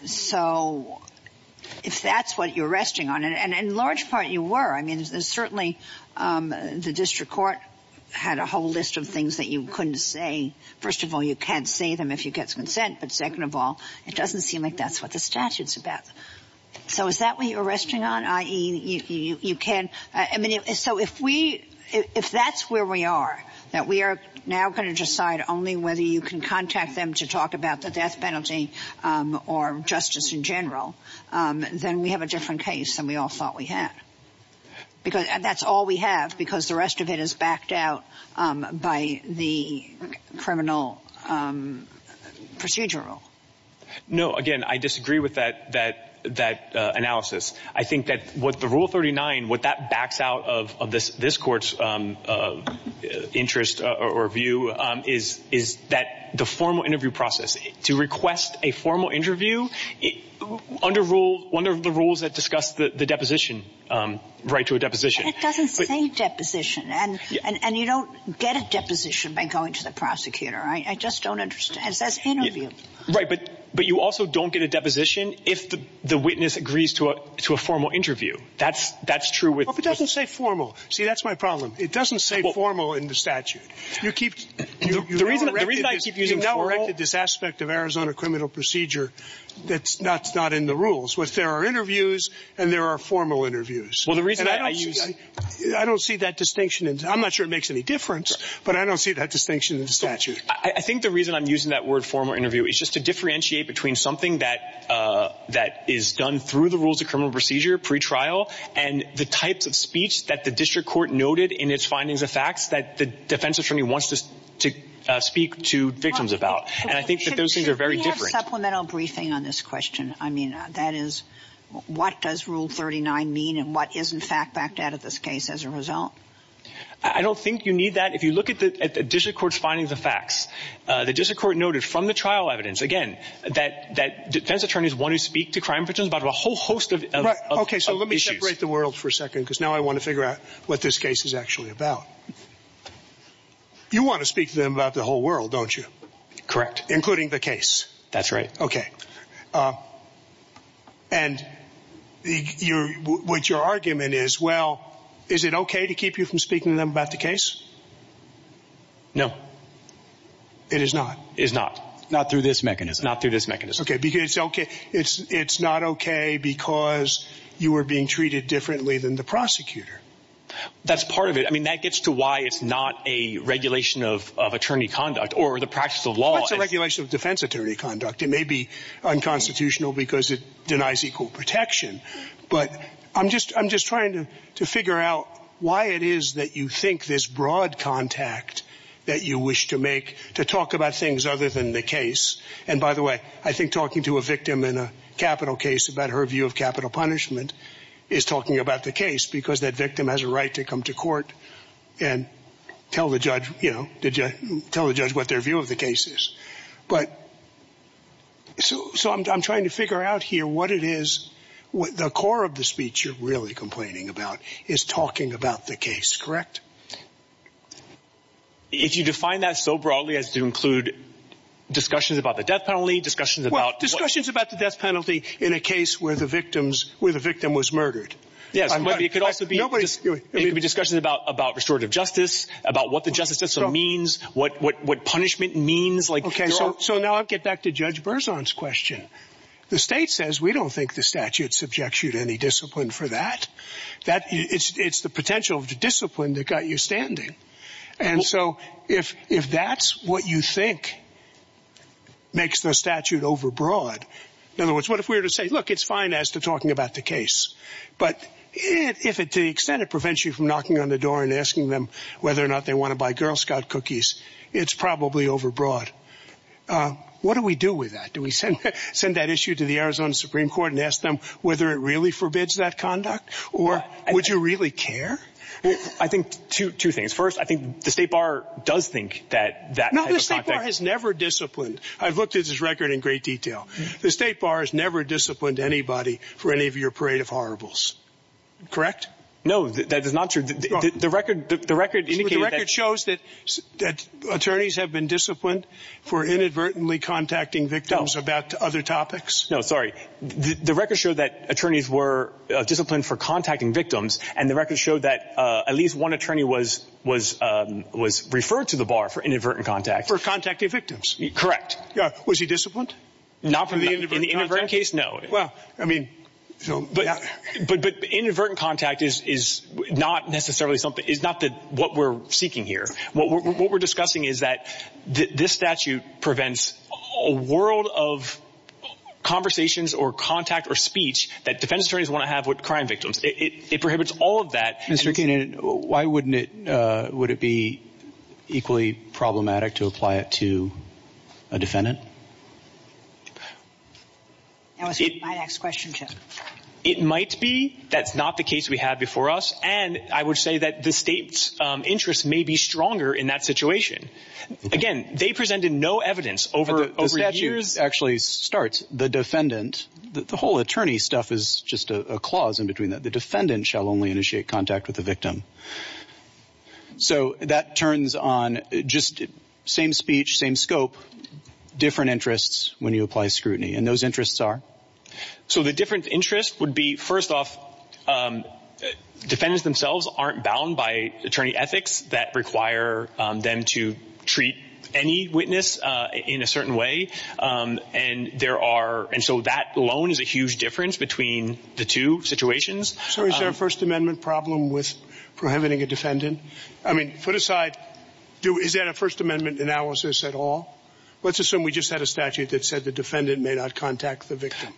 So if that's what you're resting on, and in large part you were. I mean, certainly the district court had a whole list of things that you couldn't say. First of all, you can't say them if you get consent, but second of all, it doesn't seem like that's what the statute's about. So is that what you're resting on, i.e. you can't? I mean, so if that's where we are, that we are now going to decide only whether you can contact them to talk about the death penalty, or justice in general, then we have a different case than we all thought we had. And that's all we have because the rest of it is backed out by the criminal procedural. No, again, I disagree with that analysis. I think that what the Rule 39, what that backs out of this court's interest or view is that the formal interview process, to request a formal interview under one of the rules that discuss the deposition, right to a deposition. It doesn't say deposition, and you don't get a deposition by going to the prosecutor. I just don't understand. Right, but you also don't get a deposition if the witness agrees to a formal interview. That's true. It doesn't say formal. See, that's my problem. It doesn't say formal in the statute. The reason I keep using formal… You've now corrected this aspect of Arizona criminal procedure that's not in the rules, but there are interviews and there are formal interviews. Well, the reason I use… I don't see that distinction. I'm not sure it makes any difference, but I don't see that distinction in the statute. I think the reason I'm using that word, formal interview, is just to differentiate between something that is done through the rules of criminal procedure, pre-trial, and the types of speech that the district court noted in its findings of fact that the defense attorney wants to speak to victims about. And I think that those things are very different. Can we have a supplemental briefing on this question? I mean, that is, what does Rule 39 mean and what is, in fact, backed out of this case as a result? I don't think you need that. If you look at the district court's findings of fact, the district court noted from the trial evidence, again, that defense attorneys want to speak to crime victims about a whole host of issues. Okay, so let me separate the world for a second because now I want to figure out what this case is actually about. You want to speak to them about the whole world, don't you? Correct. Including the case. That's right. Okay, and what your argument is, well, is it okay to keep you from speaking to them about the case? No. It is not? It is not. Not through this mechanism? Not through this mechanism. Okay, because it's not okay because you were being treated differently than the prosecutor. That's part of it. I mean, that gets to why it's not a regulation of attorney conduct or the practice of law. It's not a regulation of defense attorney conduct. It may be unconstitutional because it denies equal protection. But I'm just trying to figure out why it is that you think this broad contact that you wish to make to talk about things other than the case. And by the way, I think talking to a victim in a capital case about her view of capital punishment is talking about the case because that victim has a right to come to court and tell the judge what their view of the case is. So I'm trying to figure out here what it is, what the core of the speech you're really complaining about is talking about the case. Correct? If you define that so broadly as to include discussions about the death penalty, discussions about... Well, discussions about the death penalty in a case where the victim was murdered. Yes, but it could also be discussions about restorative justice, about what the justice system means, what punishment means. OK, so now I'll get back to Judge Berzon's question. The state says we don't think the statute subjects you to any discipline for that. It's the potential discipline that got you standing. And so if that's what you think makes the statute overbroad, in other words, what if we were to say, look, it's fine as to talking about the case, but to the extent it prevents you from knocking on the door and asking them whether or not they want to buy Girl Scout cookies, it's probably overbroad. What do we do with that? Do we send that issue to the Arizona Supreme Court and ask them whether it really forbids that conduct? Or would you really care? I think two things. First, I think the state bar does think that... I've looked at this record in great detail. The state bar has never disciplined anybody for any of your parade of horribles. Correct? No, that is not true. The record shows that attorneys have been disciplined for inadvertently contacting victims about other topics. No, sorry. The record showed that attorneys were disciplined for contacting victims, and the record showed that at least one attorney was referred to the bar for inadvertent contact. For contacting victims. Correct. Was he disciplined? In that case, no. But inadvertent contact is not necessarily what we're seeking here. What we're discussing is that this statute prevents a world of conversations or contact or speech that defense attorneys want to have with crime victims. It prohibits all of that. Mr. Keenan, why wouldn't it be equally problematic to apply it to a defendant? That was my next question, too. It might be. That's not the case we had before us. And I would say that the state's interest may be stronger in that situation. Again, they presented no evidence over years. The whole attorney stuff is just a clause in between that the defendant shall only initiate contact with the victim. So that turns on just same speech, same scope, different interests when you apply scrutiny. And those interests are? So the different interests would be, first off, defendants themselves aren't bound by attorney ethics that require them to treat any witness in a certain way. And there are. And so that alone is a huge difference between the two situations. So is there a First Amendment problem with prohibiting a defendant? I mean, put aside. Is that a First Amendment analysis at all? Let's assume we just had a statute that said the defendant may not contact the victim.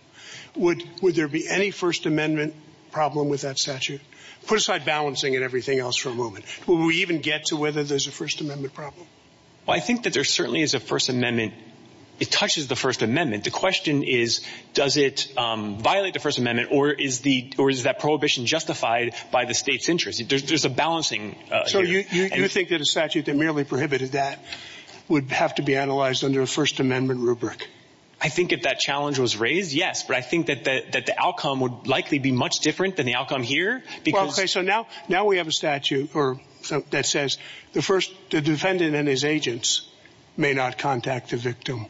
Would would there be any First Amendment problem with that statute? Put aside balancing and everything else for a moment. Will we even get to whether there's a First Amendment problem? I think that there certainly is a First Amendment. It touches the First Amendment. The question is, does it violate the First Amendment or is that prohibition justified by the state's interest? There's a balancing. You think that a statute that merely prohibited that would have to be analyzed under a First Amendment rubric? I think if that challenge was raised, yes. But I think that the outcome would likely be much different than the outcome here. So now now we have a statute that says the first defendant and his agents may not contact the victim.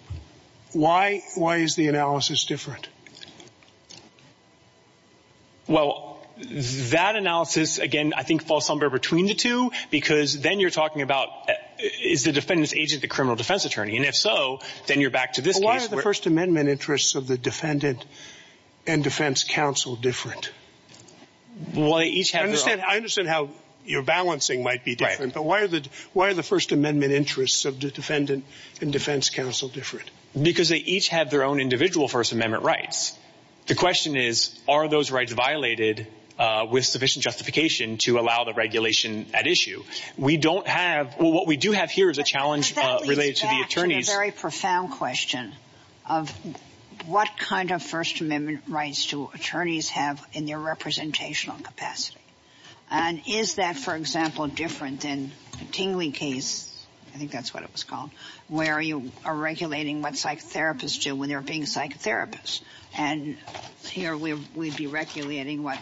Why? Why is the analysis different? Well, that analysis, again, I think falls somewhere between the two, because then you're talking about is the defendant's agent the criminal defense attorney? And if so, then you're back to this. Why are the First Amendment interests of the defendant and defense counsel different? Why each? I understand how you're balancing might be different. But why are the why are the First Amendment interests of the defendant and defense counsel different? Because they each have their own individual First Amendment rights. The question is, are those rights violated with sufficient justification to allow the regulation at issue? We don't have what we do have here is a challenge related to the attorneys. It's a very profound question of what kind of First Amendment rights do attorneys have in their representational capacity? And is that, for example, different than the Kingley case? I think that's what it was called, where you are regulating what psychotherapists do when they're being psychotherapists. And here we'd be regulating what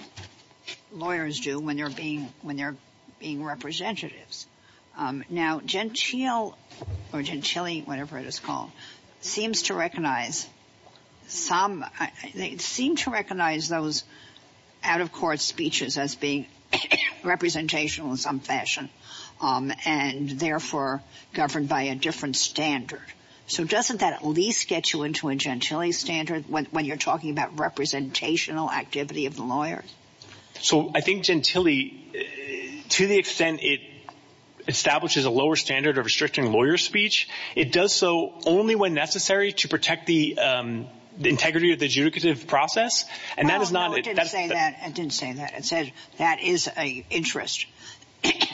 lawyers do when they're being when they're being representatives. Now, Gentile or Gentile, whatever it is called, seems to recognize some seem to recognize those out of court speeches as being representational in some fashion, and therefore governed by a different standard. So doesn't that at least get you into a Gentile standard when you're talking about representational activity of lawyers? So I think Gentile, to the extent it establishes a lower standard of restricting lawyer speech, it does so only when necessary to protect the integrity of the judicative process. And that is not. I didn't say that. I didn't say that. It said that is a interest.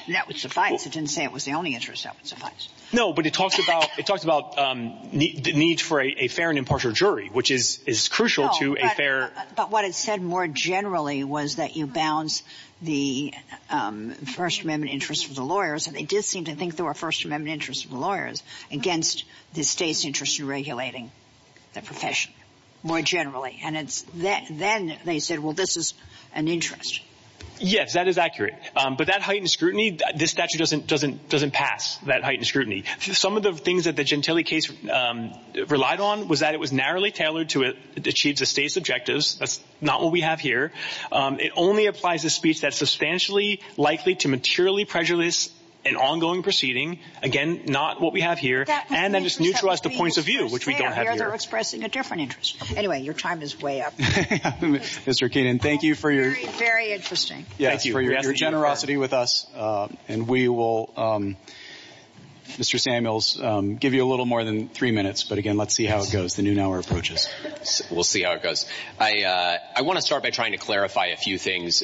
That was suffice. It didn't say it was the only interest. That was suffice. No, but it talked about the need for a fair and impartial jury, which is crucial to a fair... But what it said more generally was that you balance the First Amendment interest of the lawyers. And they did seem to think there were First Amendment interests of the lawyers against the state's interest in regulating the profession more generally. And then they said, well, this is an interest. Yes, that is accurate. But that heightened scrutiny, this statute doesn't pass that heightened scrutiny. Some of the things that the Gentile case relied on was that it was narrowly tailored to achieve the state's objectives. That's not what we have here. It only applies to speech that's substantially likely to materially prejudice an ongoing proceeding. Again, not what we have here. And then it's new to us the points of view, which we don't have here. They're expressing a different interest. Anyway, your time is way up. Mr. Keenan, thank you for your generosity with us. And we will, Mr. Samuels, give you a little more than three minutes. But again, let's see how it goes. We'll see how it goes. I want to start by trying to clarify a few things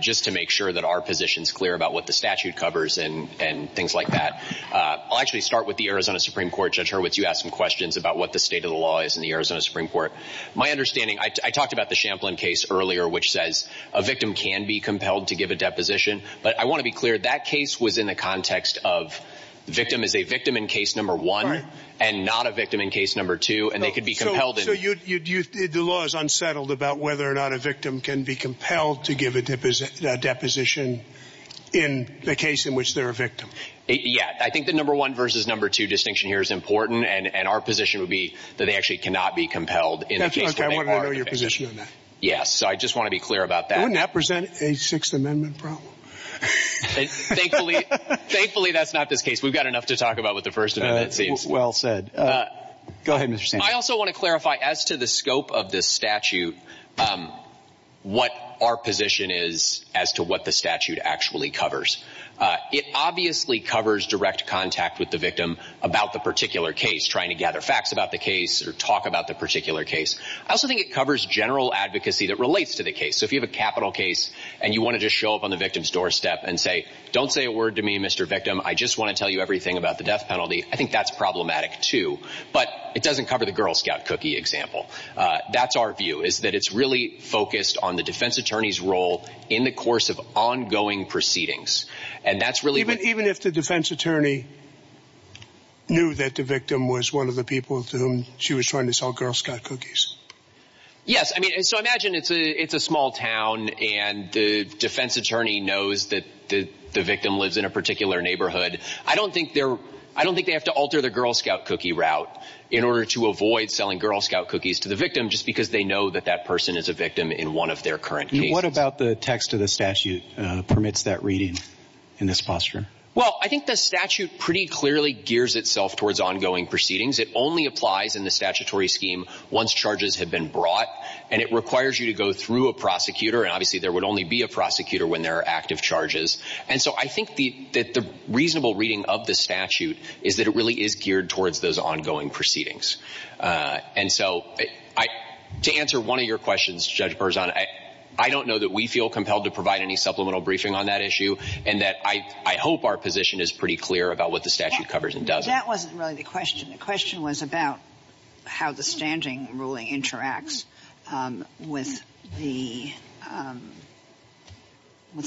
just to make sure that our position is clear about what the statute covers and things like that. I'll actually start with the Arizona Supreme Court. Judge Hurwitz, you asked some questions about what the state of the law is in the Arizona Supreme Court. My understanding, I talked about the Champlin case earlier, which says a victim can be compelled to give a deposition. But I want to be clear, that case was in the context of the victim is a victim in case number one and not a victim in case number two, and they could be compelled. So the law is unsettled about whether or not a victim can be compelled to give a deposition in the case in which they're a victim. Yeah. I think the number one versus number two distinction here is important. And our position would be that they actually cannot be compelled in the case where they are a victim. I want to know your position on that. Yes, I just want to be clear about that. Wouldn't that present a Sixth Amendment problem? Thankfully, that's not the case. We've got enough to talk about with the First Amendment. Well said. Go ahead, Mr. Stanton. I also want to clarify, as to the scope of the statute, what our position is as to what the statute actually covers. It obviously covers direct contact with the victim about the particular case, trying to gather facts about the case or talk about the particular case. I also think it covers general advocacy that relates to the case. So if you have a capital case and you wanted to show up on the victim's doorstep and say, don't say a word to me, Mr. Victim, I just want to tell you everything about the death penalty, I think that's problematic, too. But it doesn't cover the Girl Scout cookie example. That's our view, is that it's really focused on the defense attorney's role in the course of ongoing proceedings. Even if the defense attorney knew that the victim was one of the people to whom she was trying to sell Girl Scout cookies? Yes. So imagine it's a small town and the defense attorney knows that the victim lives in a particular neighborhood. I don't think they have to alter the Girl Scout cookie route in order to avoid selling Girl Scout cookies to the victim just because they know that that person is a victim in one of their current cases. What about the text of the statute that permits that reading in this posture? Well, I think the statute pretty clearly gears itself towards ongoing proceedings. It only applies in the statutory scheme once charges have been brought. And it requires you to go through a prosecutor, and obviously there would only be a prosecutor when there are active charges. And so I think that the reasonable reading of the statute is that it really is geared towards those ongoing proceedings. And so to answer one of your questions, Judge Berzon, I don't know that we feel compelled to provide any supplemental briefing on that issue. And I hope our position is pretty clear about what the statute covers and doesn't. That wasn't really the question. The question was about how the standing ruling interacts with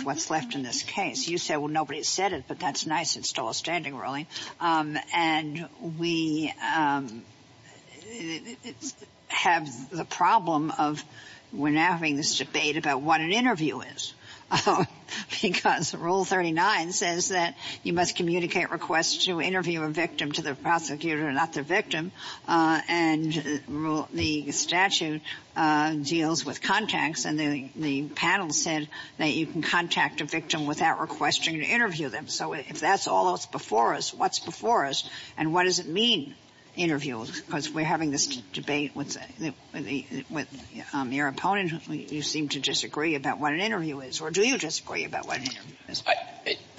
what's left in this case. You said, well, nobody said it, but that's nice. It's still a standing ruling. And we have the problem of we're now having this debate about what an interview is. Because Rule 39 says that you must communicate requests to interview a victim to the prosecutor, not the victim. And the statute deals with contacts. And the panel said that you can contact a victim without requesting to interview them. So if that's all that's before us, what's before us? And what does it mean, interviews? Because we're having this debate with your opponent. You seem to disagree about what an interview is. Or do you disagree about what an interview is?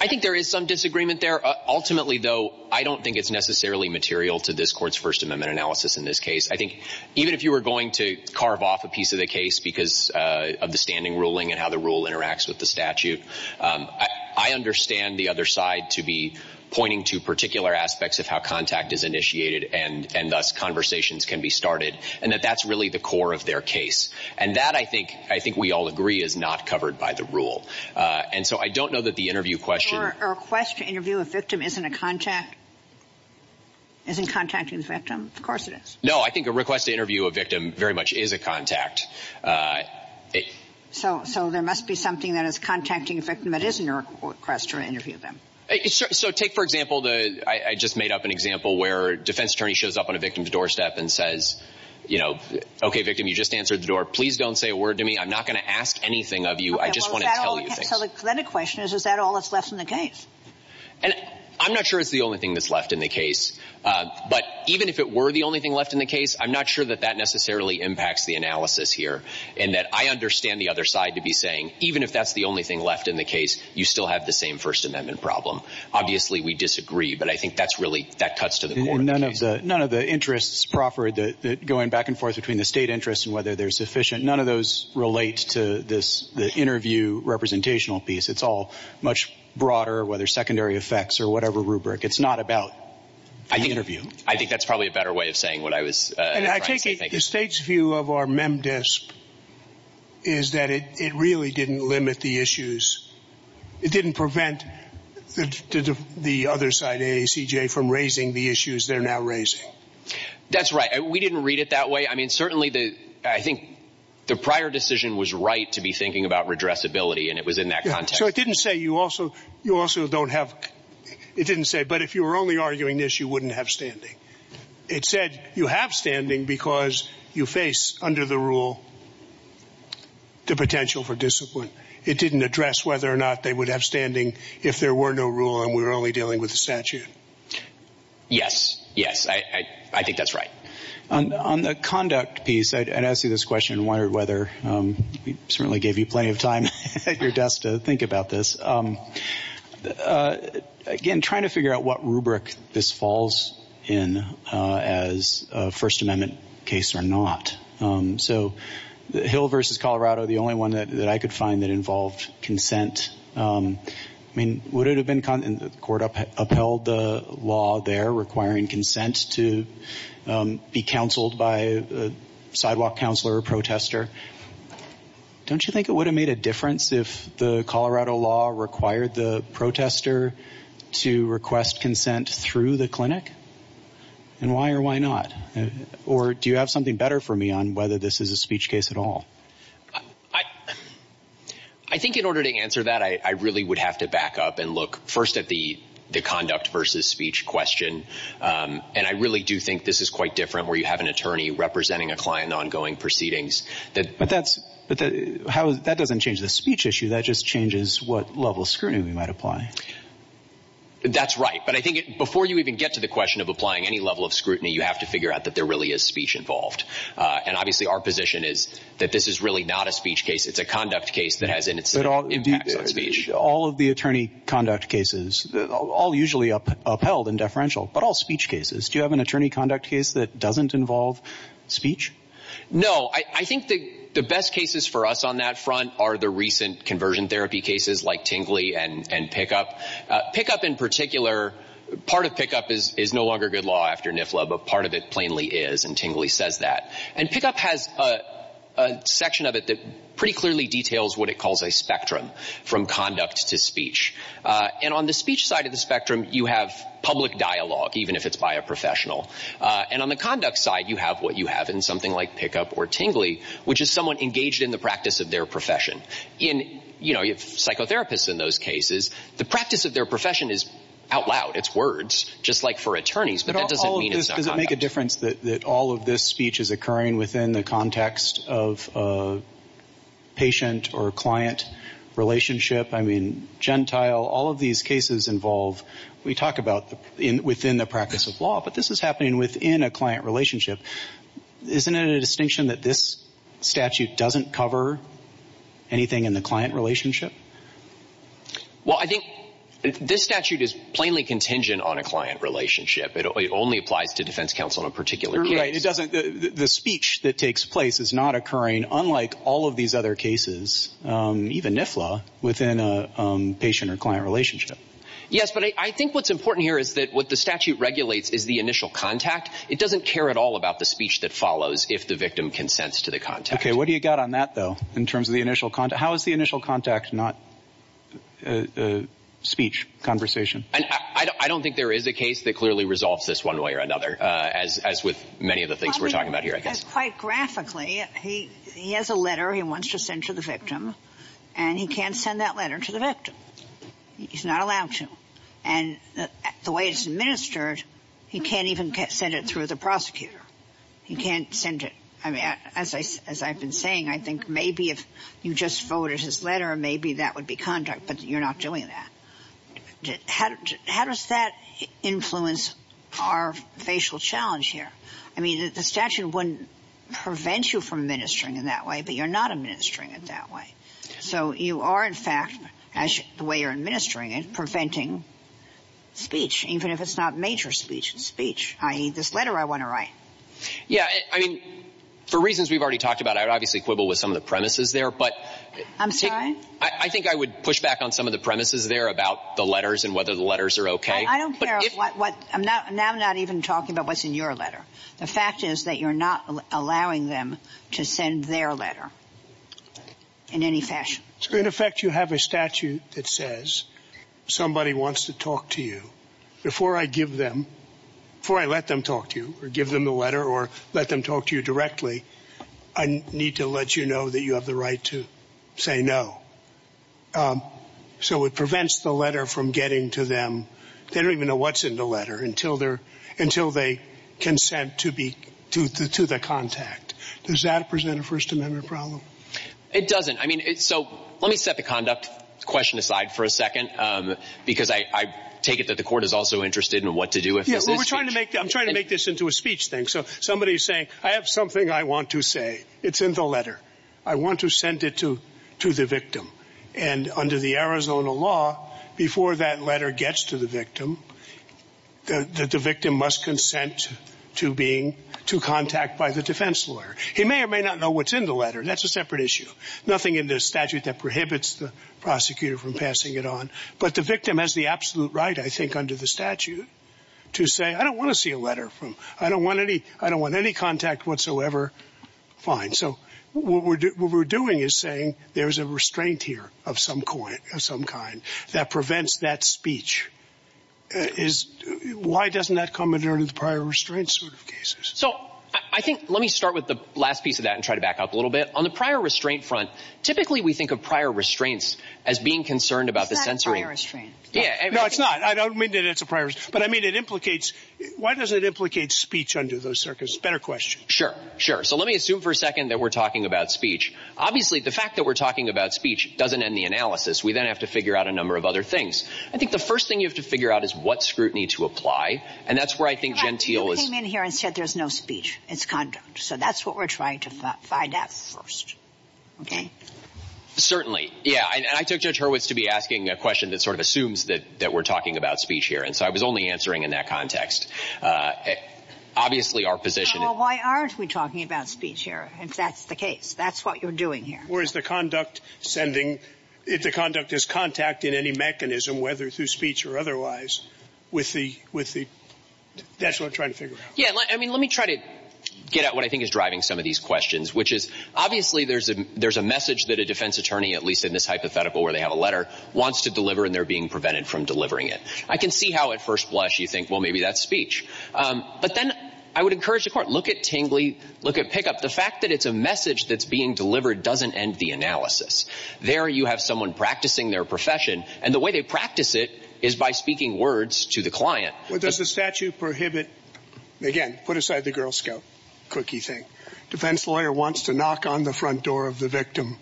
I think there is some disagreement there. Ultimately, though, I don't think it's necessarily material to this Court's First Amendment analysis in this case. I think even if you were going to carve off a piece of the case because of the standing ruling and how the rule interacts with the statute, I understand the other side to be pointing to particular aspects of how contact is initiated and thus conversations can be started, and that that's really the core of their case. And that, I think we all agree, is not covered by the rule. And so I don't know that the interview question — Or a request to interview a victim isn't a contact. Isn't contact a victim? Of course it is. So there must be something that is contacting a victim that isn't a request to interview them. So take, for example, I just made up an example where a defense attorney shows up on a victim's doorstep and says, you know, okay, victim, you just answered the door. Please don't say a word to me. I'm not going to ask anything of you. I just want to tell you. Well, the question is, is that all that's left in the case? I'm not sure it's the only thing that's left in the case. But even if it were the only thing left in the case, I'm not sure that that necessarily impacts the analysis here. And that I understand the other side to be saying, even if that's the only thing left in the case, you still have the same First Amendment problem. Obviously we disagree, but I think that's really — that cuts to the core. None of the interests proper, going back and forth between the state interests and whether they're sufficient, none of those relate to the interview representational piece. It's all much broader, whether secondary effects or whatever rubric. It's not about the interview. I think that's probably a better way of saying what I was trying to say. And I take it the state's view of our MEM DISP is that it really didn't limit the issues. It didn't prevent the other side, AACJ, from raising the issues they're now raising. That's right. We didn't read it that way. I mean, certainly I think the prior decision was right to be thinking about redressability, and it was in that context. So it didn't say you also don't have — it didn't say, but if you were only arguing this, you wouldn't have standing. It said you have standing because you face under the rule the potential for discipline. It didn't address whether or not they would have standing if there were no rule and we were only dealing with the statute. Yes, yes. I think that's right. On the conduct piece, and I see this question in Wired Weather, certainly gave you plenty of time at your desk to think about this. Again, trying to figure out what rubric this falls in as a First Amendment case or not. So Hill v. Colorado, the only one that I could find that involved consent. I mean, would it have been — and the court upheld the law there requiring consent to be counseled by a sidewalk counselor or protester. Don't you think it would have made a difference if the Colorado law required the protester to request consent through the clinic? And why or why not? Or do you have something better for me on whether this is a speech case at all? I think in order to answer that, I really would have to back up and look first at the conduct versus speech question. And I really do think this is quite different where you have an attorney representing a client in ongoing proceedings. But that doesn't change the speech issue. That just changes what level of scrutiny we might apply. That's right. But I think before you even get to the question of applying any level of scrutiny, you have to figure out that there really is speech involved. And obviously our position is that this is really not a speech case. It's a conduct case that has an impact on speech. All of the attorney conduct cases, all usually upheld in deferential, but all speech cases. Do you have an attorney conduct case that doesn't involve speech? No. I think the best cases for us on that front are the recent conversion therapy cases like Tingley and Pickup. Pickup in particular, part of Pickup is no longer good law after NIFLA, but part of it plainly is, and Tingley says that. And Pickup has a section of it that pretty clearly details what it calls a spectrum from conduct to speech. And on the speech side of the spectrum, you have public dialogue, even if it's by a professional. And on the conduct side, you have what you have in something like Pickup or Tingley, which is someone engaged in the practice of their profession. Psychotherapists in those cases, the practice of their profession is out loud. It's words, just like for attorneys. But that doesn't mean it's not conduct. Does it make a difference that all of this speech is occurring within the context of a patient or client relationship? I mean, Gentile, all of these cases involve, we talk about within the practice of law, but this is happening within a client relationship. Isn't it a distinction that this statute doesn't cover anything in the client relationship? Well, I think this statute is plainly contingent on a client relationship. It only applies to defense counsel in a particular case. The speech that takes place is not occurring, unlike all of these other cases, even NIFLA, within a patient or client relationship. Yes, but I think what's important here is that what the statute regulates is the initial contact. It doesn't care at all about the speech that follows if the victim consents to the contact. Okay, what do you got on that, though, in terms of the initial contact? How is the initial contact not speech, conversation? I don't think there is a case that clearly resolves this one way or another, as with many of the things we're talking about here, I guess. Quite graphically, he has a letter he wants to send to the victim, and he can't send that letter to the victim. He's not allowed to. And the way it's administered, he can't even send it through the prosecutor. He can't send it. As I've been saying, I think maybe if you just forwarded his letter, maybe that would be contact, but you're not doing that. How does that influence our facial challenge here? I mean, the statute wouldn't prevent you from administering it that way, but you're not administering it that way. So you are, in fact, the way you're administering it, preventing speech, even if it's not major speech, speech, i.e., this letter I want to write. Yeah, I mean, for reasons we've already talked about, I'd obviously quibble with some of the premises there. I'm sorry? I think I would push back on some of the premises there about the letters and whether the letters are okay. I don't care what – now I'm not even talking about what's in your letter. The fact is that you're not allowing them to send their letter in any fashion. So, in effect, you have a statute that says somebody wants to talk to you. Before I give them – before I let them talk to you or give them the letter or let them talk to you directly, I need to let you know that you have the right to say no. So it prevents the letter from getting to them. They don't even know what's in the letter until they consent to the contact. Does that present a First Amendment problem? It doesn't. I mean, so let me set the conduct question aside for a second because I take it that the court is also interested in what to do with it. Yeah, well, we're trying to make – I'm trying to make this into a speech thing. So somebody is saying, I have something I want to say. It's in the letter. I want to send it to the victim. And under the Arizona law, before that letter gets to the victim, the victim must consent to being – to contact by the defense lawyer. He may or may not know what's in the letter. That's a separate issue. Nothing in the statute that prohibits the prosecutor from passing it on. But the victim has the absolute right, I think, under the statute to say, I don't want to see a letter from – I don't want any – I don't want any contact whatsoever. Fine. So what we're doing is saying there's a restraint here of some kind that prevents that speech. Why doesn't that come under the prior restraints sort of cases? So I think – let me start with the last piece of that and try to back up a little bit. On the prior restraint front, typically we think of prior restraints as being concerned about the censoring. That's prior restraints. No, it's not. I don't mean that it's a prior – but I mean it implicates – why does it implicate speech under those circumstances? It's a better question. Sure, sure. So let me assume for a second that we're talking about speech. Obviously, the fact that we're talking about speech doesn't end the analysis. We then have to figure out a number of other things. I think the first thing you have to figure out is what scrutiny to apply, and that's where I think Gentile is – You came in here and said there's no speech. It's conduct. So that's what we're trying to find out first. Okay? Certainly. Yeah. And I took no turn to be asking a question that sort of assumes that we're talking about speech here. And so I was only answering in that context. Obviously, our position – Well, why aren't we talking about speech here? If that's the case, that's what you're doing here. Or is the conduct sending – if the conduct is contacting any mechanism, whether through speech or otherwise, with the – that's what we're trying to figure out. Yeah, I mean, let me try to get at what I think is driving some of these questions, which is obviously there's a message that a defense attorney, at least in this hypothetical where they have a letter, wants to deliver and they're being prevented from delivering it. I can see how at first blush you think, well, maybe that's speech. But then I would encourage the court, look at Tingley, look at Pickup. The fact that it's a message that's being delivered doesn't end the analysis. There you have someone practicing their profession, and the way they practice it is by speaking words to the client. Does the statute prohibit – again, put aside the Girl Scout cookie thing. Defense lawyer wants to knock on the front door of the victim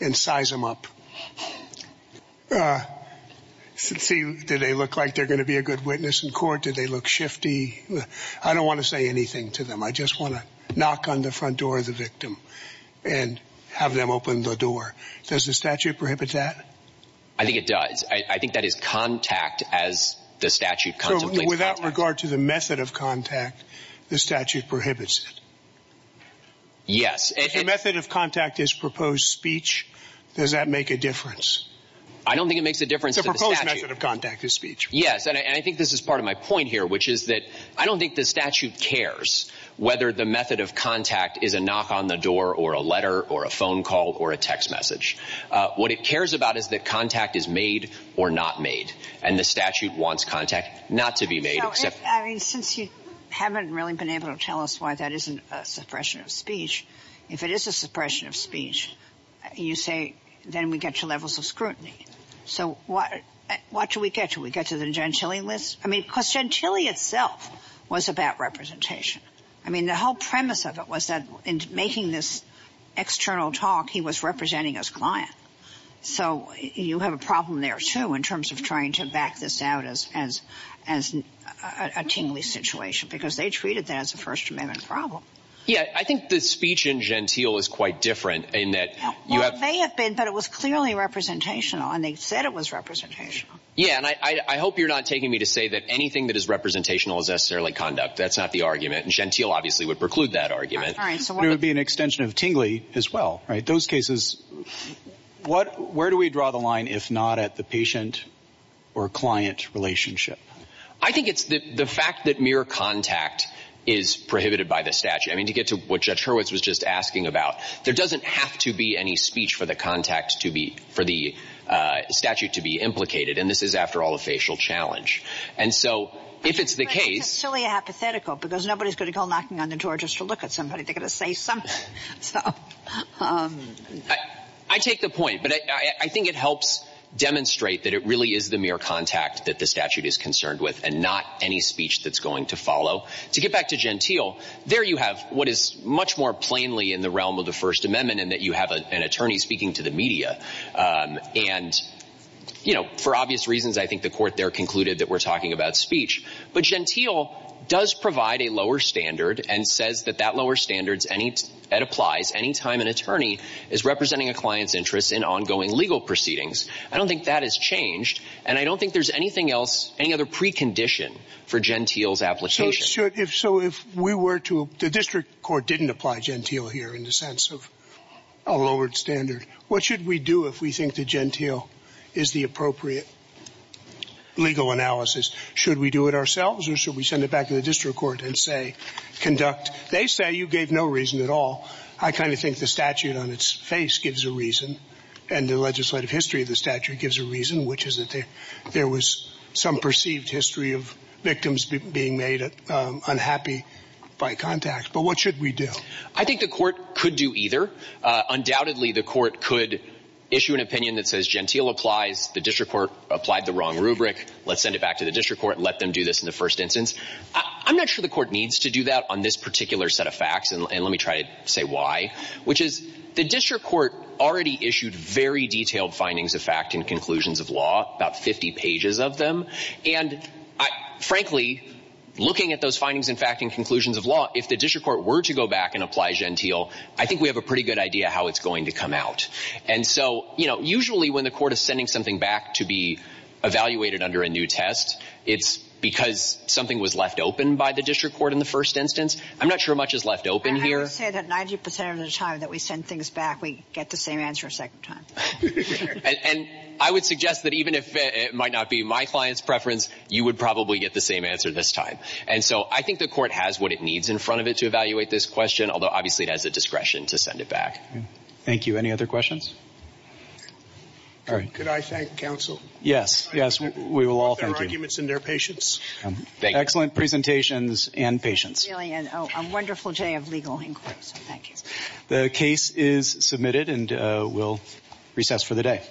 and size them up. Do they look like they're going to be a good witness in court? Do they look shifty? I don't want to say anything to them. I just want to knock on the front door of the victim and have them open the door. Does the statute prohibit that? I think it does. I think that is contact as the statute contemplates. So without regard to the method of contact, the statute prohibits it? Yes. If the method of contact is proposed speech, does that make a difference? I don't think it makes a difference. The proposed method of contact is speech. Yes, and I think this is part of my point here, which is that I don't think the statute cares whether the method of contact is a knock on the door or a letter or a phone call or a text message. What it cares about is that contact is made or not made, and the statute wants contact not to be made. Since you haven't really been able to tell us why that isn't a suppression of speech, if it is a suppression of speech, you say then we get to levels of scrutiny. So what do we get? Do we get to the Gentile list? I mean, because Gentile itself was about representation. I mean, the whole premise of it was that in making this external talk, he was representing his client. So you have a problem there, too, in terms of trying to back this out as a tingly situation, because they treated that as a First Amendment problem. Yes, I think the speech in Gentile is quite different in that you have to But it was clearly representational, and they said it was representational. Yeah, and I hope you're not taking me to say that anything that is representational is necessarily conduct. That's not the argument, and Gentile obviously would preclude that argument. There would be an extension of tingly as well, right? Those cases, where do we draw the line if not at the patient or client relationship? I think it's the fact that mere contact is prohibited by the statute. I mean, to get to what Judge Hurwitz was just asking about, there doesn't have to be any speech for the statute to be implicated, and this is, after all, a facial challenge. And so if it's the case It's silly and hypothetical because nobody's going to go knocking on the door just to look at somebody. They're going to say something. I take the point, but I think it helps demonstrate that it really is the mere contact that the statute is concerned with and not any speech that's going to follow. To get back to Gentile, there you have what is much more plainly in the realm of the First Amendment in that you have an attorney speaking to the media. And, you know, for obvious reasons, I think the court there concluded that we're talking about speech. But Gentile does provide a lower standard and says that that lower standard applies any time an attorney is representing a client's interest in ongoing legal proceedings. I don't think that has changed, and I don't think there's anything else, any other precondition for Gentile's application. So if we were to... The district court didn't apply Gentile here in the sense of a lowered standard. What should we do if we think that Gentile is the appropriate legal analysis? Should we do it ourselves or should we send it back to the district court and say, conduct... They say you gave no reason at all. I kind of think the statute on its face gives a reason, and the legislative history of the statute gives a reason, which is that there was some perceived history of victims being made unhappy by contacts. But what should we do? I think the court could do either. Undoubtedly, the court could issue an opinion that says Gentile applies. The district court applied the wrong rubric. Let's send it back to the district court and let them do this in the first instance. I'm not sure the court needs to do that on this particular set of facts, and let me try to say why, which is the district court already issued very detailed findings of fact and conclusions of law, about 50 pages of them. And frankly, looking at those findings and facts and conclusions of law, if the district court were to go back and apply Gentile, I think we have a pretty good idea how it's going to come out. And so, you know, usually when the court is sending something back to be evaluated under a new test, it's because something was left open by the district court in the first instance. I'm not sure much is left open here. I would say that 90% of the time that we send things back, we get the same answer a second time. And I would suggest that even if it might not be my client's preference, you would probably get the same answer this time. And so I think the court has what it needs in front of it to evaluate this question, although obviously it has the discretion to send it back. Thank you. Any other questions? Could I thank counsel? Yes, yes, we will all thank you. Their arguments and their patience. Excellent presentations and patience. A wonderful day of legal inquiry. Thank you. The case is submitted and we'll recess for the day.